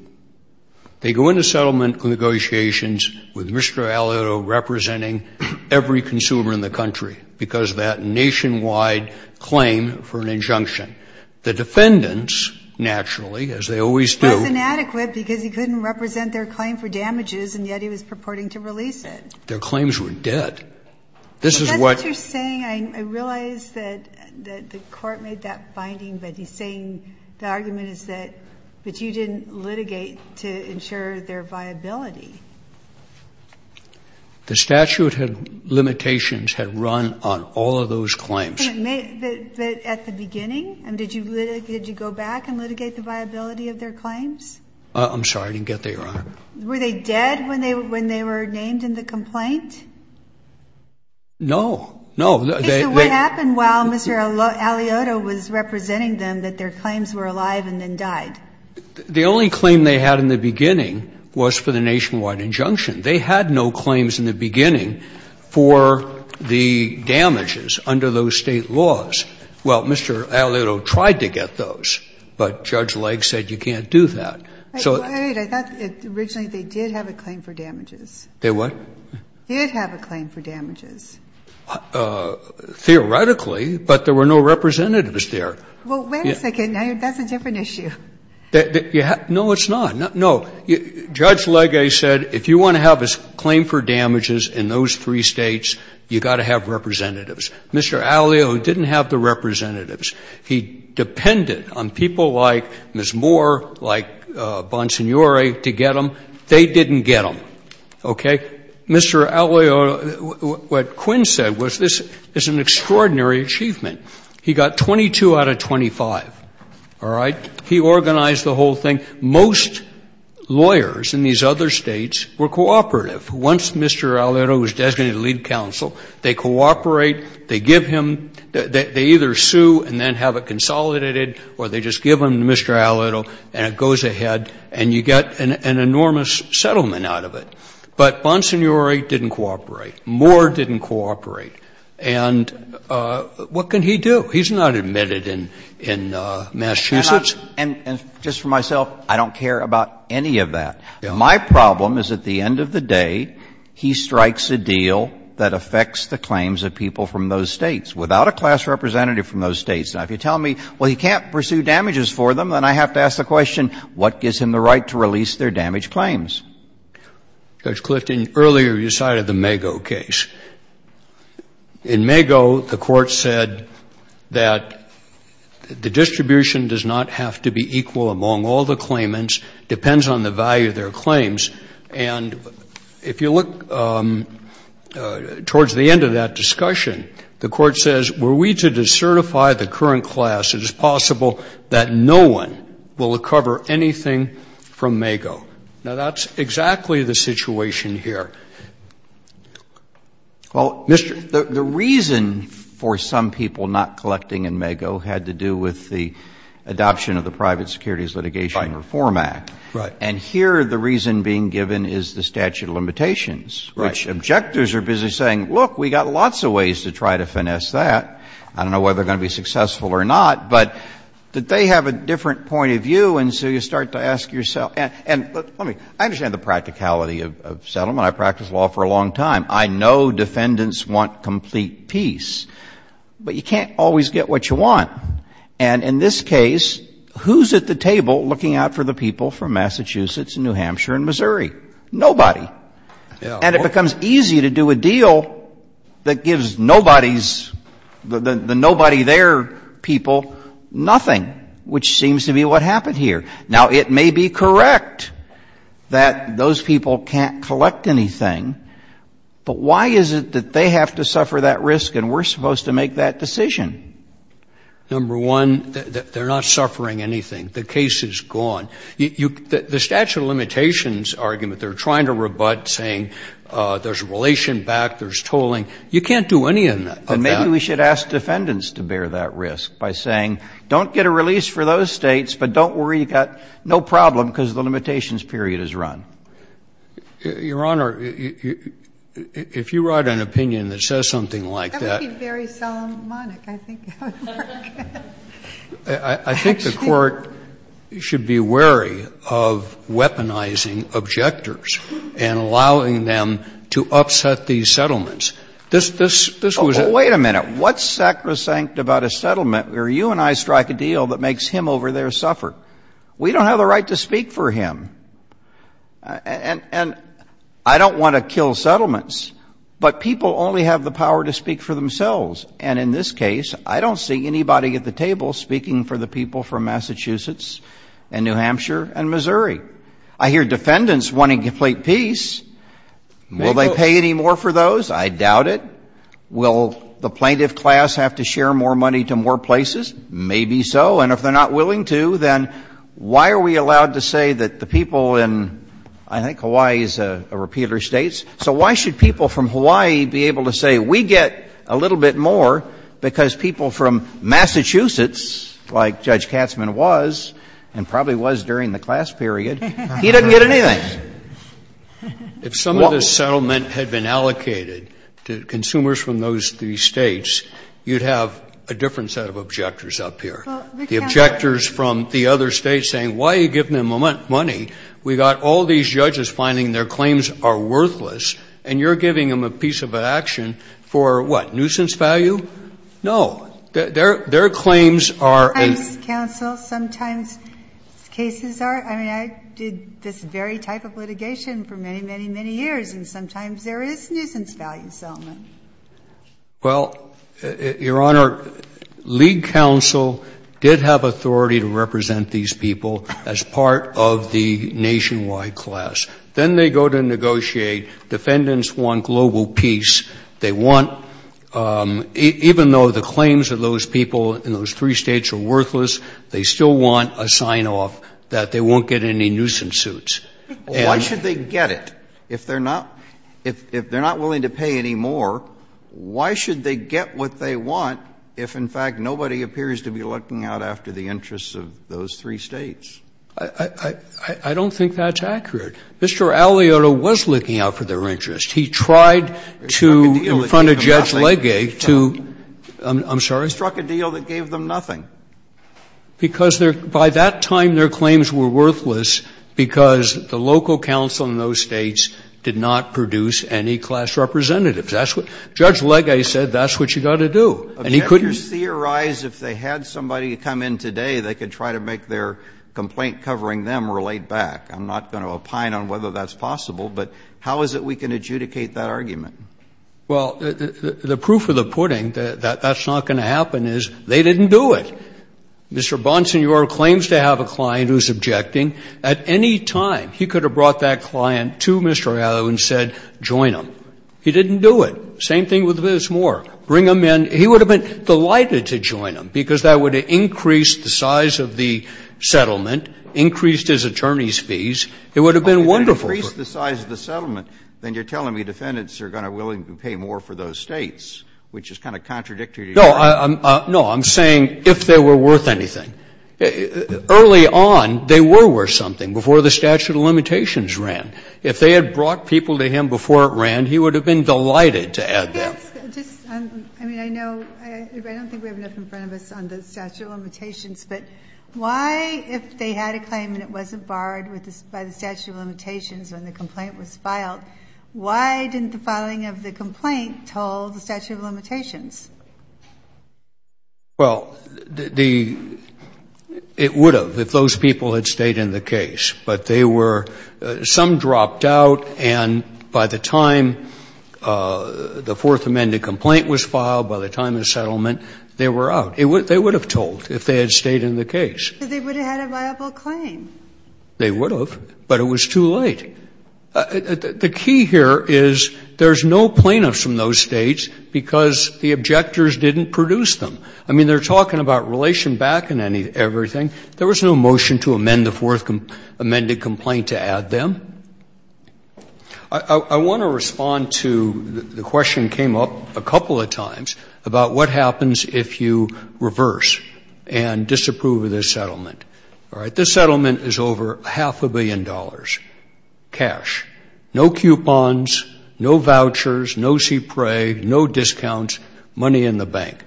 They go into settlement negotiations with Mr. Ali Odo representing every consumer in the country because of that nationwide claim for an injunction. The defendants, naturally, as they always do... That's inadequate because he couldn't represent their claim for damages and yet he was purporting to release it. Their claims were dead. That's interesting. I realize that the court made that finding, but he's saying the argument is that you didn't litigate to ensure their viability. The statute of limitations had run on all of those claims. But at the beginning? Did you go back and litigate the viability of their claims? I'm sorry, I didn't get there, Your Honor. Were they dead when they were named in the complaint? No. What happened while Mr. Ali Odo was representing them that their claims were alive and then died? The only claim they had in the beginning was for the nationwide injunction. They had no claims in the beginning for the damages under those state laws. Well, Mr. Ali Odo tried to get those, but Judge Legg said you can't do that. Wait, I thought originally they did have a claim for damages. They what? They did have a claim for damages. Theoretically, but there were no representatives there. Well, wait a second. That's a different issue. No, it's not. Judge Legg said if you want to have a claim for damages in those three states, you've got to have representatives. Mr. Ali Odo didn't have the representatives. He depended on people like Ms. Moore, like Bonsignore to get them. They didn't get them, okay? Mr. Ali Odo, what Quinn said was this is an extraordinary achievement. He got 22 out of 25, all right? He organized the whole thing. Most lawyers in these other states were cooperative. Once Mr. Ali Odo was designated to lead counsel, they cooperate. They give him, they either sue and then have it consolidated or they just give him to Mr. Ali Odo and it goes ahead and you get an enormous settlement out of it. But Bonsignore didn't cooperate. Moore didn't cooperate. And what can he do? He's not admitted in Massachusetts. And just for myself, I don't care about any of that. My problem is at the end of the day, he strikes a deal that affects the claims of people from those states without a class representative from those states. Now, if you tell me, well, you can't pursue damages for them, then I have to ask the question, what gives him the right to release their damaged claims? Judge Clifton, earlier you cited the MAGO case. In MAGO, the court said that the distribution does not have to be equal among all the claimants. It depends on the value of their claims. And if you look towards the end of that discussion, the court says were we to decertify the current class, it is possible that no one will recover anything from MAGO. Now, that's exactly the situation here. Well, the reason for some people not collecting in MAGO had to do with the adoption of the Private Securities Litigation Reform Act. And here the reason being given is the statute of limitations, which objectors are busy saying, look, we've got lots of ways to try to finesse that. I don't know whether they're going to be successful or not, but they have a different point of view, and so you start to ask yourself. I understand the practicality of settlement. I've practiced law for a long time. I know defendants want complete peace, but you can't always get what you want. And in this case, who's at the table looking out for the people from Massachusetts and New Hampshire and Missouri? Nobody. And it becomes easy to do a deal that gives the nobody there people nothing, which seems to be what happened here. Now, it may be correct that those people can't collect anything, but why is it that they have to suffer that risk and we're supposed to make that decision? Number one, they're not suffering anything. The case is gone. The statute of limitations argument, they're trying to rebut saying there's relation back, there's tolling. You can't do any of that. And maybe we should ask defendants to bear that risk by saying, don't get a release for those states, but don't worry, you've got no problem because the limitations period is run. Your Honor, if you write an opinion that says something like that. That would be very Solomonic, I think. I think the court should be wary of weaponizing objectors and allowing them to upset these settlements. Wait a minute. What sacrosanct about a settlement where you and I strike a deal that makes him over there suffer? We don't have the right to speak for him. And I don't want to kill settlements, but people only have the power to speak for themselves. And in this case, I don't see anybody at the table speaking for the people from Massachusetts and New Hampshire and Missouri. I hear defendants wanting complete peace. Will they pay any more for those? I doubt it. Will the plaintiff class have to share more money to more places? Maybe so. And if they're not willing to, then why are we allowed to say that the people in, I think, Hawaii is a repeater state. So why should people from Hawaii be able to say, we get a little bit more because people from Massachusetts, like Judge Katzmann was and probably was during the class period, he doesn't get anything. If some of this settlement had been allocated to consumers from these states, you'd have a different set of objectors up here. The objectors from the other states saying, why are you giving them money? We've got all these judges finding their claims are worthless, and you're giving them a piece of action for, what, nuisance value? No. Their claims are a – Sometimes, counsel, sometimes cases are – I mean, I did this very type of litigation for many, many, many years, and sometimes there is nuisance value settlement. Well, Your Honor, League Counsel did have authority to represent these people as part of the nationwide class. Then they go to negotiate. Defendants want global peace. They want, even though the claims of those people in those three states are worthless, they still want a sign-off that they won't get any nuisance suits. Why should they get it? If they're not willing to pay any more, why should they get what they want if, in fact, nobody appears to be looking out after the interests of those three states? I don't think that's accurate. Mr. Alioto was looking out for their interests. He tried to, in front of Judge Legate, to – I'm sorry? Struck a deal that gave them nothing. Because by that time, their claims were worthless because the local counsel in those states did not produce any class representatives. Judge Legate said that's what you've got to do, and he couldn't. If you theorize if they had somebody come in today, they could try to make their complaint covering them relate back. I'm not going to opine on whether that's possible, but how is it we can adjudicate that argument? Well, the proof of the pudding that that's not going to happen is they didn't do it. Mr. Bonsignore claims to have a client who's objecting. At any time, he could have brought that client to Mr. Alioto and said, join them. He didn't do it. Same thing with Vince Moore. Bring them in. He would have been delighted to join them because that would have increased the size of the settlement, increased his attorney's fees. It would have been wonderful. If it increased the size of the settlement, then you're telling me defendants are going to be willing to pay more for those states, which is kind of contradictory to your argument. No, I'm saying if they were worth anything. Early on, they were worth something before the statute of limitations ran. If they had brought people to him before it ran, he would have been delighted to add them. I don't think we have enough in front of us on the statute of limitations, but why, if they had a claim and it wasn't barred by the statute of limitations when the complaint was filed, why didn't the filing of the complaint tell the statute of limitations? Well, it would have if those people had stayed in the case, but some dropped out and by the time the Fourth Amendment complaint was filed, by the time of the settlement, they were out. They would have told if they had stayed in the case. Because they would have had a viable claim. They would have, but it was too late. The key here is there's no plaintiffs from those states because the objectors didn't produce them. I mean, they're talking about relation back and everything. There was no motion to amend the Fourth Amendment complaint to add them. I want to respond to the question that came up a couple of times about what happens if you reverse and disapprove of this settlement. This settlement is over half a billion dollars, cash. No coupons, no vouchers, no CPRA, no discounts, money in the bank.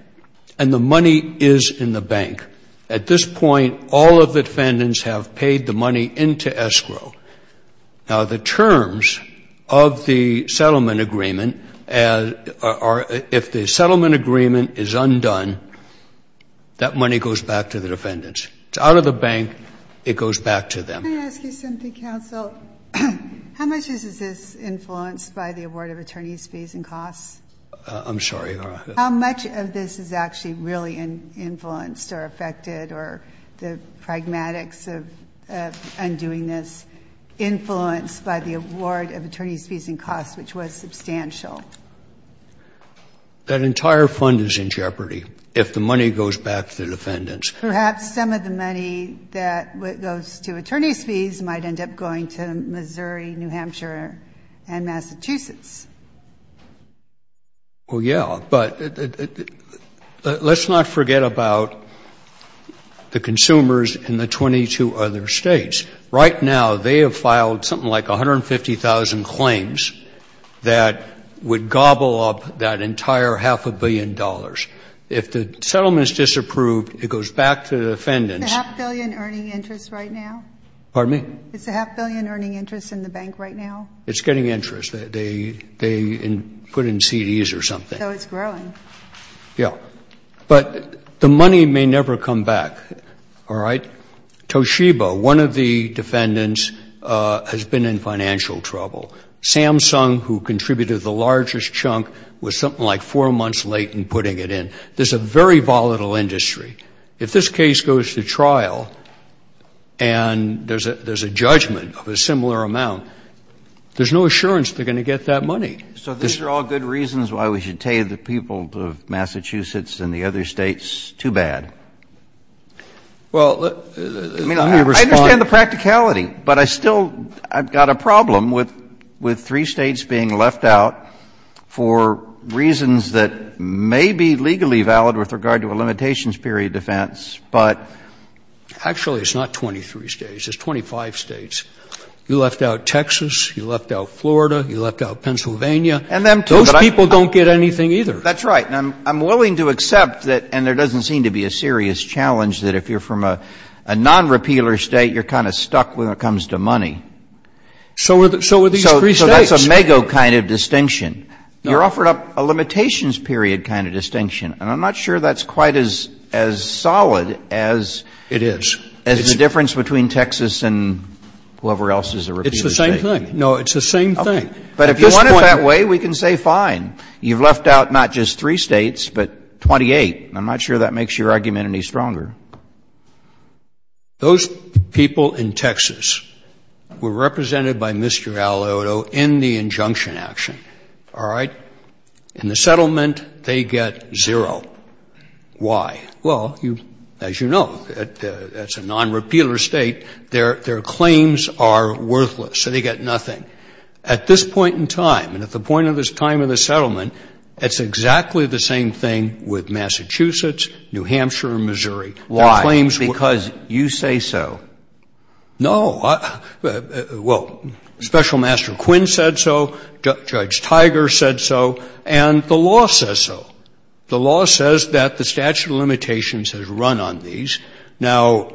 And the money is in the bank. At this point, all of the defendants have paid the money into escrow. Now, the terms of the settlement agreement, if the settlement agreement is undone, that money goes back to the defendants. It's out of the bank. It goes back to them. Can I ask you something, counsel? How much is this influenced by the award of attorney's fees and costs? I'm sorry. How much of this is actually really influenced or affected or the pragmatics of undoing this influenced by the award of attorney's fees and costs, which was substantial? That entire fund is in jeopardy if the money goes back to the defendants. Perhaps some of the money that goes to attorney's fees might end up going to Missouri, New Hampshire, and Massachusetts. Well, yeah, but let's not forget about the consumers in the 22 other states. Right now, they have filed something like 150,000 claims that would gobble up that entire half a billion dollars. If the settlement is disapproved, it goes back to the defendants. Is the half billion earning interest right now? Pardon me? Is the half billion earning interest in the bank right now? It's getting interest. They put it in CDs or something. So it's growing. Yeah, but the money may never come back, all right? Toshiba, one of the defendants, has been in financial trouble. Samsung, who contributed the largest chunk, was something like four months late in putting it in. There's a very volatile industry. If this case goes to trial and there's a judgment of a similar amount, there's no assurance they're going to get that money. So these are all good reasons why we should tave the people of Massachusetts and the other states too bad. Well, I understand the practicality, but I've still got a problem with three states being left out for reasons that may be legally valid with regard to a limitations period defense. Actually, it's not 23 states. It's 25 states. You left out Texas. You left out Florida. You left out Pennsylvania. Those people don't get anything either. That's right. I'm willing to accept that, and there doesn't seem to be a serious challenge, that if you're from a non-repealer state, you're kind of stuck when it comes to money. So are these three states. So that's a mega kind of distinction. You're offering up a limitations period kind of distinction, and I'm not sure that's quite as solid as the difference between Texas and whoever else is a repealer state. It's the same thing. No, it's the same thing. But if you want it that way, we can say fine. You've left out not just three states, but 28. I'm not sure that makes your argument any stronger. Those people in Texas were represented by Mr. Aliotto in the injunction action. All right? In the settlement, they get zero. Why? Well, as you know, that's a non-repealer state. Their claims are worthless, so they get nothing. At this point in time, and at the point of this time in the settlement, that's exactly the same thing with Massachusetts, New Hampshire, and Missouri. Why? Because you say so. No. Well, Special Master Quinn said so. Judge Tiger said so. And the law says so. The law says that the statute of limitations has run on these. Now,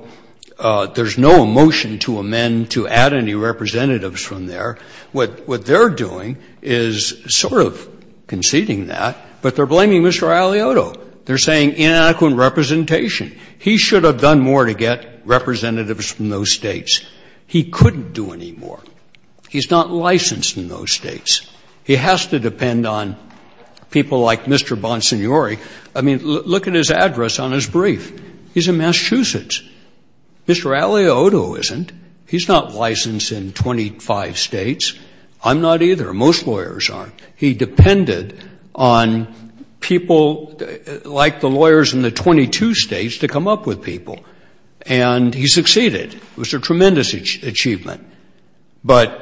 there's no motion to amend to add any representatives from there. What they're doing is sort of conceding that, but they're blaming Mr. Aliotto. They're saying inadequate representation. He should have done more to get representatives from those states. He couldn't do any more. He's not licensed in those states. He has to depend on people like Mr. Bonsignori. I mean, look at his address on his brief. He's in Massachusetts. Mr. Aliotto isn't. He's not licensed in 25 states. I'm not either. Most lawyers aren't. He depended on people like the lawyers in the 22 states to come up with people, and he succeeded. It was a tremendous achievement. But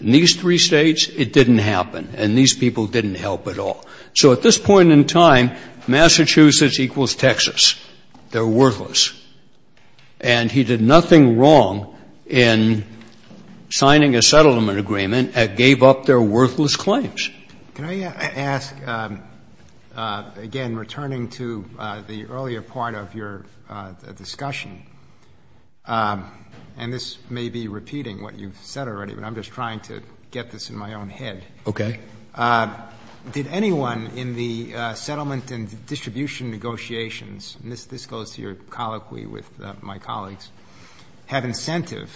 in these three states, it didn't happen, and these people didn't help at all. So at this point in time, Massachusetts equals Texas. They're worthless. And he did nothing wrong in signing a settlement agreement and gave up their worthless claims. Can I ask, again, returning to the earlier part of your discussion, and this may be repeating what you've said already, but I'm just trying to get this in my own head. Okay. Did anyone in the settlement and distribution negotiations, and this goes to your colloquy with my colleagues, have incentive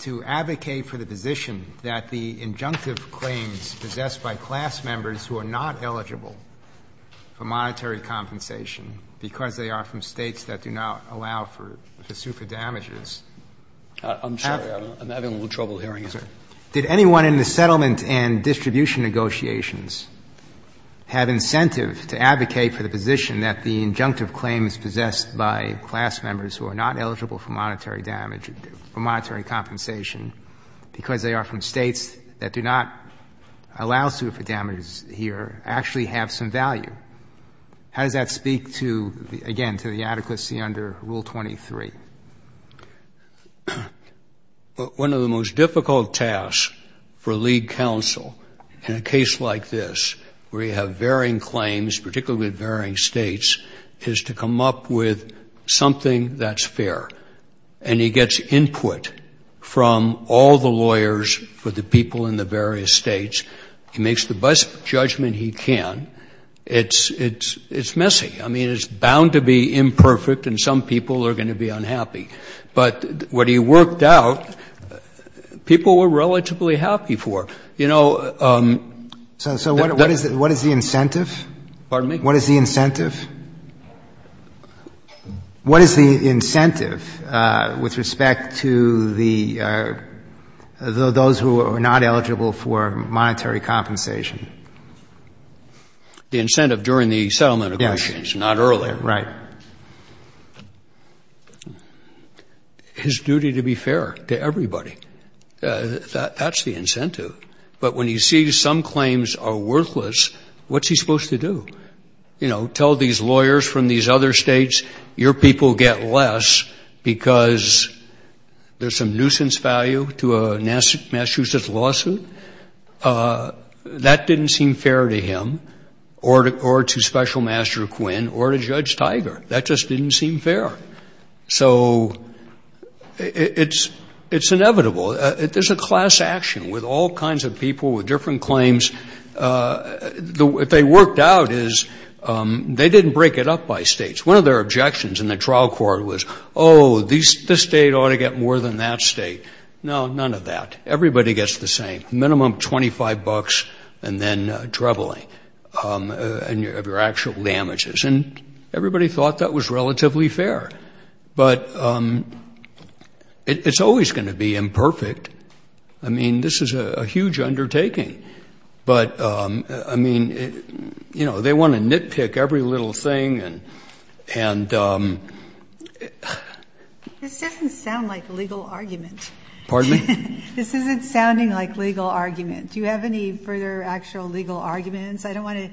to advocate for the position that the injunctive claims possessed by class members who are not eligible for monetary compensation because they are from states that do not allow for the super damages? I'm sorry. Did anyone in the settlement and distribution negotiations have incentive to advocate for the position that the injunctive claims possessed by class members who are not eligible for monetary compensation because they are from states that do not allow super damages here actually have some value? How does that speak to, again, to the adequacy under Rule 23? One of the most difficult tasks for lead counsel in a case like this where you have varying claims, particularly in varying states, is to come up with something that's fair. And he gets input from all the lawyers for the people in the various states. He makes the best judgment he can. It's messy. I mean, it's bound to be imperfect, and some people are going to be unhappy. But what he worked out, people were relatively happy for. So what is the incentive? Pardon me? What is the incentive? What is the incentive with respect to those who are not eligible for monetary compensation? The incentive during the settlement negotiations, not earlier. Right. His duty to be fair to everybody. That's the incentive. But when he sees some claims are worthless, what's he supposed to do? You know, tell these lawyers from these other states, your people get less because there's some nuisance value to a Massachusetts lawsuit. That didn't seem fair to him or to Special Master Quinn or to Judge Tiger. That just didn't seem fair. So it's inevitable. There's a class action with all kinds of people with different claims. What they worked out is they didn't break it up by states. One of their objections in the trial court was, oh, this state ought to get more than that state. No, none of that. Everybody gets the same, minimum $25 and then traveling and your actual damages. And everybody thought that was relatively fair. But it's always going to be imperfect. I mean, this is a huge undertaking. But, I mean, you know, they want to nitpick every little thing. This doesn't sound like a legal argument. Pardon me? This isn't sounding like legal argument. Do you have any further actual legal arguments? I don't want to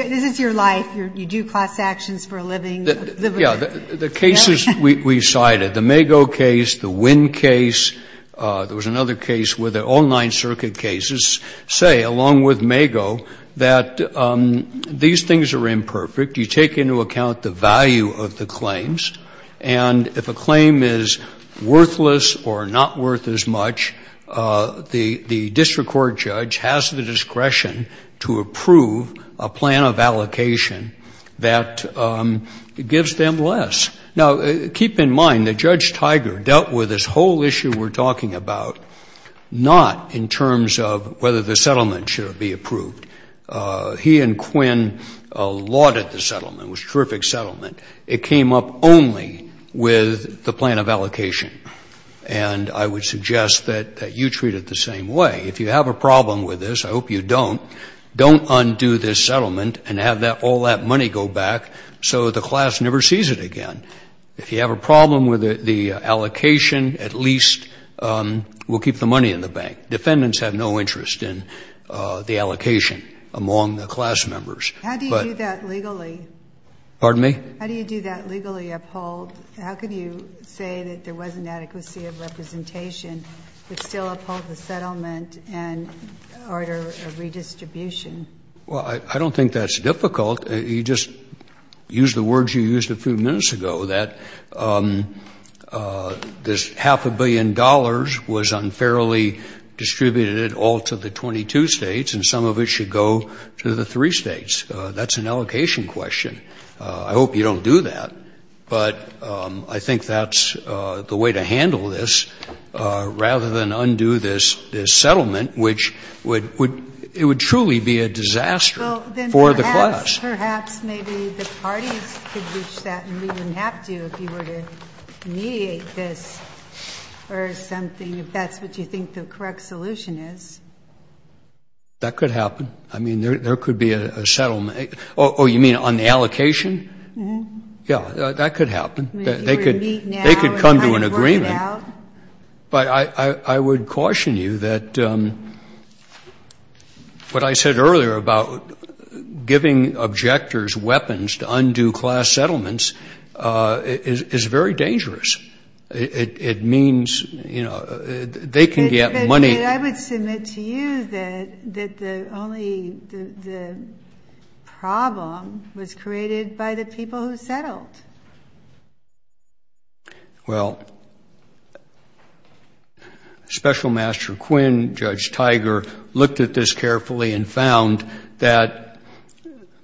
– this is your life. You do class actions for a living. Yeah, the cases we cited, the Mago case, the Wynn case, there was another case where all nine circuit cases say, along with Mago, that these things are imperfect. You take into account the value of the claims. And if a claim is worthless or not worth as much, the district court judge has the discretion to approve a plan of allocation that gives them less. Now, keep in mind that Judge Tiger dealt with this whole issue we're talking about, not in terms of whether the settlement should be approved. He and Quinn lauded the settlement. It was a terrific settlement. It came up only with the plan of allocation. And I would suggest that you treat it the same way. If you have a problem with this, I hope you don't, don't undo this settlement and have all that money go back so the class never sees it again. If you have a problem with the allocation, at least we'll keep the money in the bank. Defendants have no interest in the allocation among the class members. How do you do that legally? Pardon me? How do you do that legally uphold? How can you say that there wasn't adequacy of representation to still uphold the settlement and order of redistribution? Well, I don't think that's difficult. You just used the words you used a few minutes ago, that this half a billion dollars was unfairly distributed all to the 22 states, and some of it should go to the three states. That's an allocation question. I hope you don't do that. But I think that's the way to handle this rather than undo this settlement, which it would truly be a disaster for the class. Well, then perhaps maybe the party could wish that and we wouldn't have to if you were to mediate this or something, if that's what you think the correct solution is. That could happen. I mean, there could be a settlement. Oh, you mean on the allocation? Yeah, that could happen. They could come to an agreement. But I would caution you that what I said earlier about giving objectors weapons to undo class settlements is very dangerous. It means, you know, they can get money. I would submit to you that the only problem was created by the people who settled. Well, Special Master Quinn, Judge Tiger, looked at this carefully and found that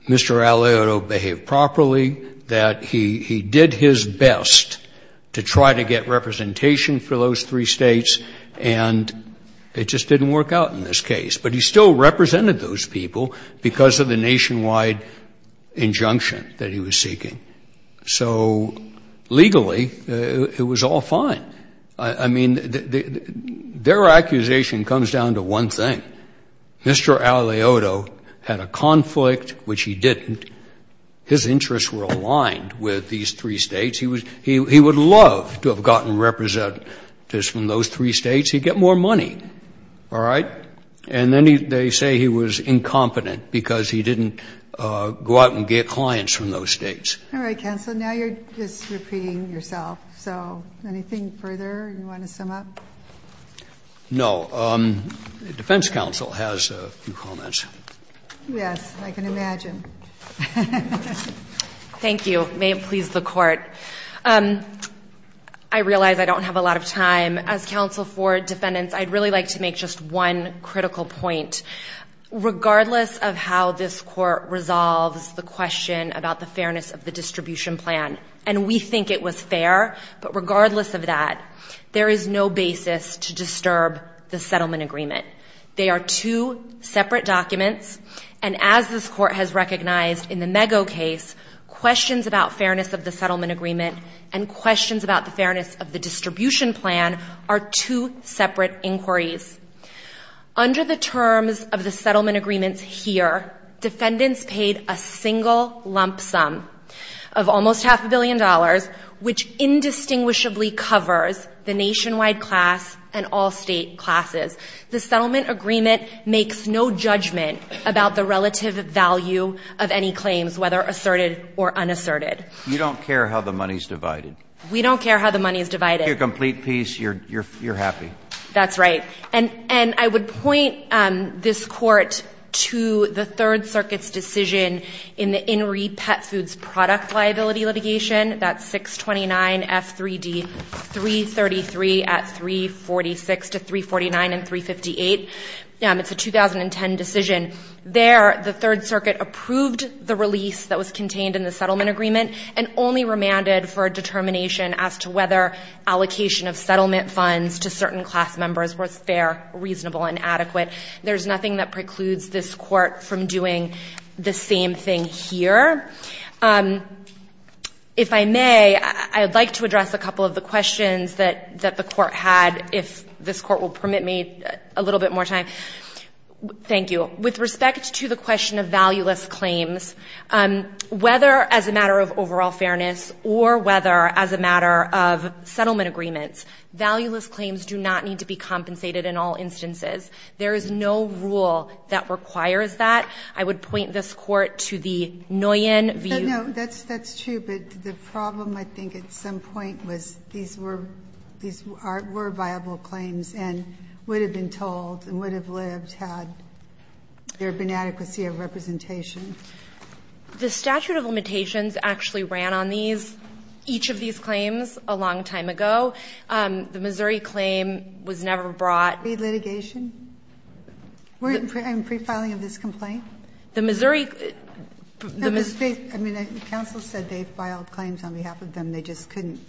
Mr. Aleuto behaved properly, that he did his best to try to get representation for those three states and it just didn't work out in this case. But he still represented those people because of the nationwide injunction that he was seeking. So legally, it was all fine. I mean, their accusation comes down to one thing. Mr. Aleuto had a conflict, which he didn't. His interests were aligned with these three states. He would love to have gotten representatives from those three states. He'd get more money, all right? And then they say he was incompetent because he didn't go out and get clients from those states. All right, counsel. Now you're just repeating yourself. So anything further you want to sum up? No. The defense counsel has a few comments. Yes, I can imagine. Thank you. It may have pleased the court. I realize I don't have a lot of time. As counsel for defendants, I'd really like to make just one critical point. Regardless of how this court resolves the question about the fairness of the distribution plan, and we think it was fair, but regardless of that, there is no basis to disturb the settlement agreement. They are two separate documents. And as this court has recognized in the Mego case, questions about fairness of the settlement agreement and questions about the fairness of the distribution plan are two separate inquiries. Under the terms of the settlement agreements here, defendants paid a single lump sum of almost half a billion dollars, which indistinguishably covers the nationwide class and all state classes. The settlement agreement makes no judgment about the relative value of any claims, whether asserted or unasserted. You don't care how the money is divided. We don't care how the money is divided. If you're complete peace, you're happy. That's right. And I would point this court to the Third Circuit's decision in the In Re. Pet Foods product liability litigation, that's 629F3D333 at 346 to 349 and 358. It's a 2010 decision. There, the Third Circuit approved the release that was contained in the settlement agreement and only remanded for a determination as to whether allocation of settlement funds to certain class members was fair, reasonable, and adequate. There's nothing that precludes this court from doing the same thing here. If I may, I'd like to address a couple of the questions that the court had, if this court will permit me a little bit more time. Thank you. With respect to the question of valueless claims, whether as a matter of overall fairness or whether as a matter of settlement agreements, valueless claims do not need to be compensated in all instances. There is no rule that requires that. I would point this court to the Nguyen view. No, that's true. The problem, I think, at some point was these were viable claims and would have been told and would have lived had there been adequacy of representation. The statute of limitations actually ran on each of these claims a long time ago. The Missouri claim was never brought. Copy litigation? We're pre-filing this complaint? The Missouri... I mean, the council said they filed claims on behalf of them. They just couldn't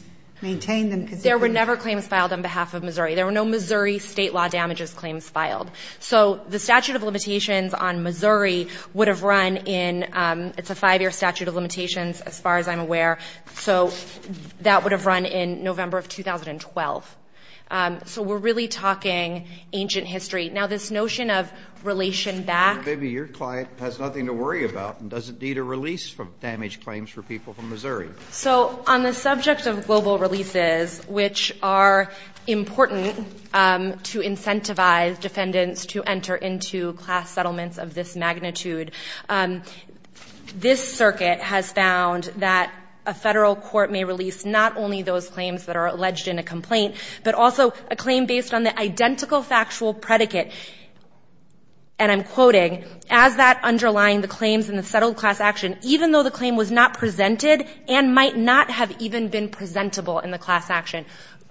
maintain them. There were never claims filed on behalf of Missouri. There were no Missouri state law damages claims filed. So the statute of limitations on Missouri would have run in, it's a five-year statute of limitations as far as I'm aware, so that would have run in November of 2012. So we're really talking ancient history. Now, this notion of relation back... Maybe your client has nothing to worry about and doesn't need a release from damaged claims for people from Missouri. So on the subject of global releases, which are important to incentivize defendants to enter into class settlements of this magnitude, this circuit has found that a federal court may release not only those claims that are alleged in the complaint, but also a claim based on the identical factual predicate, and I'm quoting, as that underlying the claims in the settled class action, even though the claim was not presented and might not have even been presentable in the class action.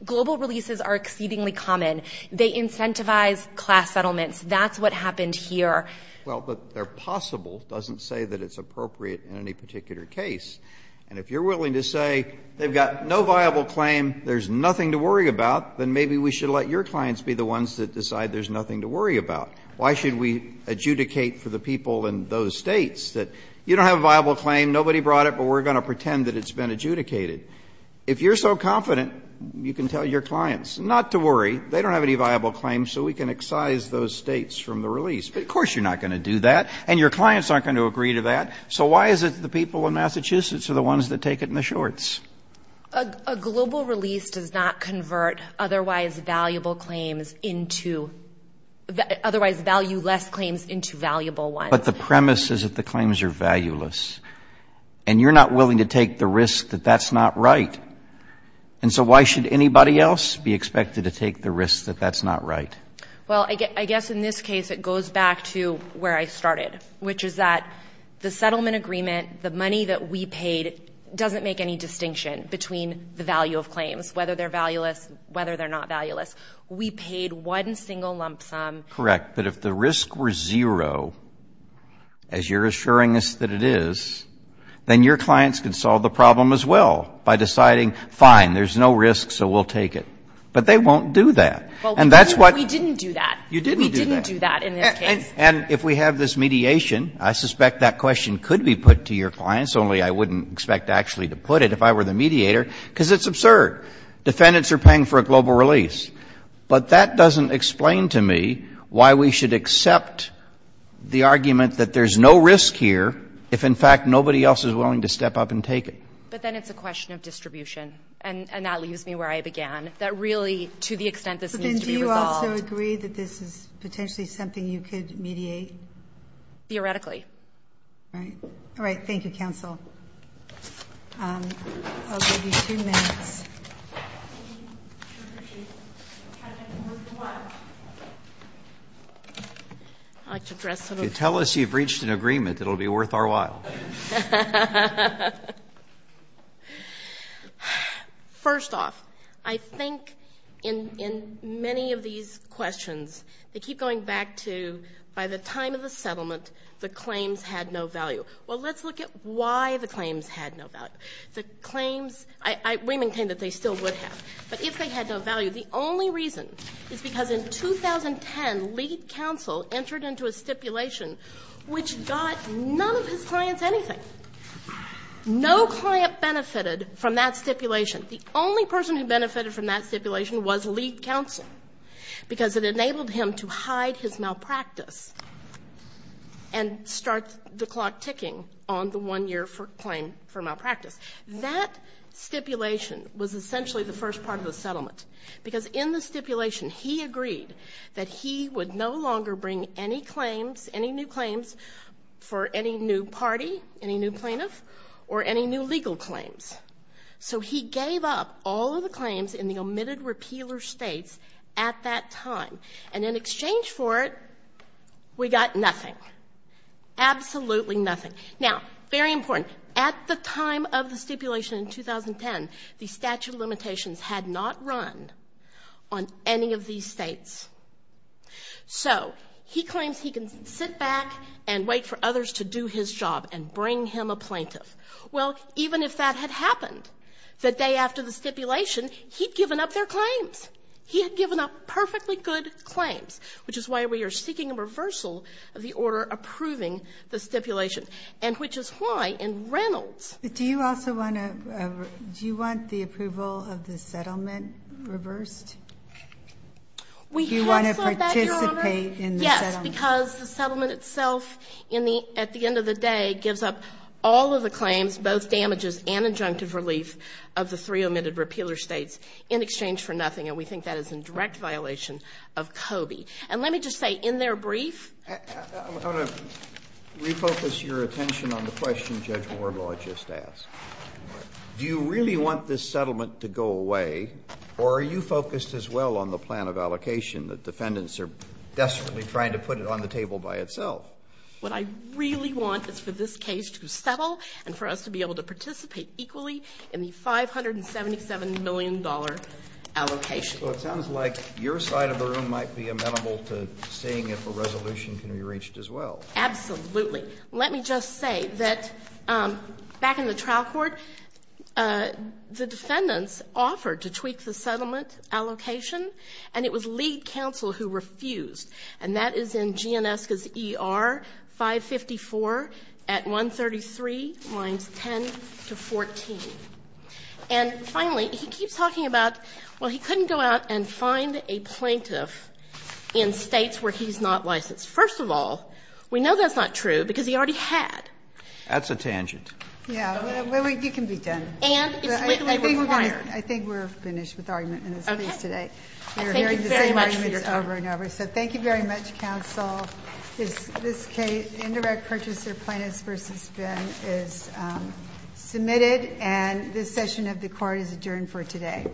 Global releases are exceedingly common. They incentivize class settlements. That's what happened here. Well, but they're possible. It doesn't say that it's appropriate in any particular case. And if you're willing to say they've got no viable claim, there's nothing to worry about, then maybe we should let your clients be the ones that decide there's nothing to worry about. Why should we adjudicate for the people in those states that you don't have a viable claim, nobody brought it, but we're going to pretend that it's been adjudicated? If you're so confident, you can tell your clients not to worry. They don't have any viable claims, so we can excise those states from the release. But of course you're not going to do that, and your clients aren't going to agree to that. So why is it that the people in Massachusetts are the ones that take it in the shorts? A global release does not convert otherwise valueless claims into valuable ones. But the premise is that the claims are valueless, and you're not willing to take the risk that that's not right. And so why should anybody else be expected to take the risk that that's not right? Well, I guess in this case it goes back to where I started, which is that the settlement agreement, the money that we paid, doesn't make any distinction between the value of claims, whether they're valueless, whether they're not valueless. We paid one single lump sum. Correct, but if the risks were zero, as you're assuring us that it is, then your clients can solve the problem as well by deciding, fine, there's no risk, so we'll take it. But they won't do that. We didn't do that. We didn't do that in this case. And if we have this mediation, I suspect that question could be put to your clients, only I wouldn't expect to actually put it if I were the mediator, because it's absurd. Defendants are paying for a global release. But that doesn't explain to me why we should accept the argument that there's no risk here if, in fact, nobody else is willing to step up and take it. But then it's a question of distribution, and that leaves me where I began, that really, to the extent that this needs to be resolved. Do you also agree that this is potentially something you could mediate? Theoretically. All right. Thank you, counsel. I'll give you two minutes. Tell us you've reached an agreement that will be worth our while. First off, I think in many of these questions, they keep going back to, by the time of the settlement, the claims had no value. Well, let's look at why the claims had no value. We maintain that they still would have. But if they had no value, the only reason is because in 2010, entered into a stipulation which got none of his clients anything. No client benefited from that stipulation. The only person who benefited from that stipulation was lead counsel because it enabled him to hide his malpractice and start the clock ticking on the one-year claim for malpractice. That stipulation was essentially the first part of the settlement because in the stipulation, he agreed that he would no longer bring any claims, any new claims for any new party, any new plaintiff, or any new legal claims. So he gave up all of the claims in the omitted repealer states at that time. And in exchange for it, we got nothing. Absolutely nothing. Now, very important, at the time of the stipulation in 2010, the statute of limitations had not run on any of these states. So he claims he can sit back and wait for others to do his job and bring him a plaintiff. Well, even if that had happened, the day after the stipulation, he'd given up their claims. He had given up perfectly good claims, which is why we are seeking a reversal of the order approving the stipulation, and which is why in Reynolds... Do you want the approval of the settlement reversed? Do you want to participate in the settlement? Yes, because the settlement itself, at the end of the day, gives up all of the claims, both damages and injunctive relief, of the three omitted repealer states in exchange for nothing, and we think that is in direct violation of COBE. And let me just say, in their brief... Hold on. Refocus your attention on the question Judge Warbaugh just asked. Do you really want this settlement to go away, or are you focused as well on the plan of allocation that defendants are desperately trying to put it on the table by itself? What I really want is for this case to settle and for us to be able to participate equally in the $577 million allocation. Well, it sounds like your side of the room might be amenable to staying if a resolution can be reached as well. Absolutely. Absolutely. Let me just say that back in the trial court, the defendants offered to tweak the settlement allocation, and it was League Counsel who refused, and that is in G&S's ER 554 at 133 lines 10 to 14. And finally, he keeps talking about, well, he couldn't go out and find a plaintiff in states where he's not licensed. First of all, we know that's not true because he already had. That's a tangent. Yeah, well, you can be done. I think we're finished with our minutes of brief today. Thank you very much. So thank you very much, counsel. This case, indirect purchaser plaintiffs versus defendants, is submitted, and this session of the court is adjourned for today.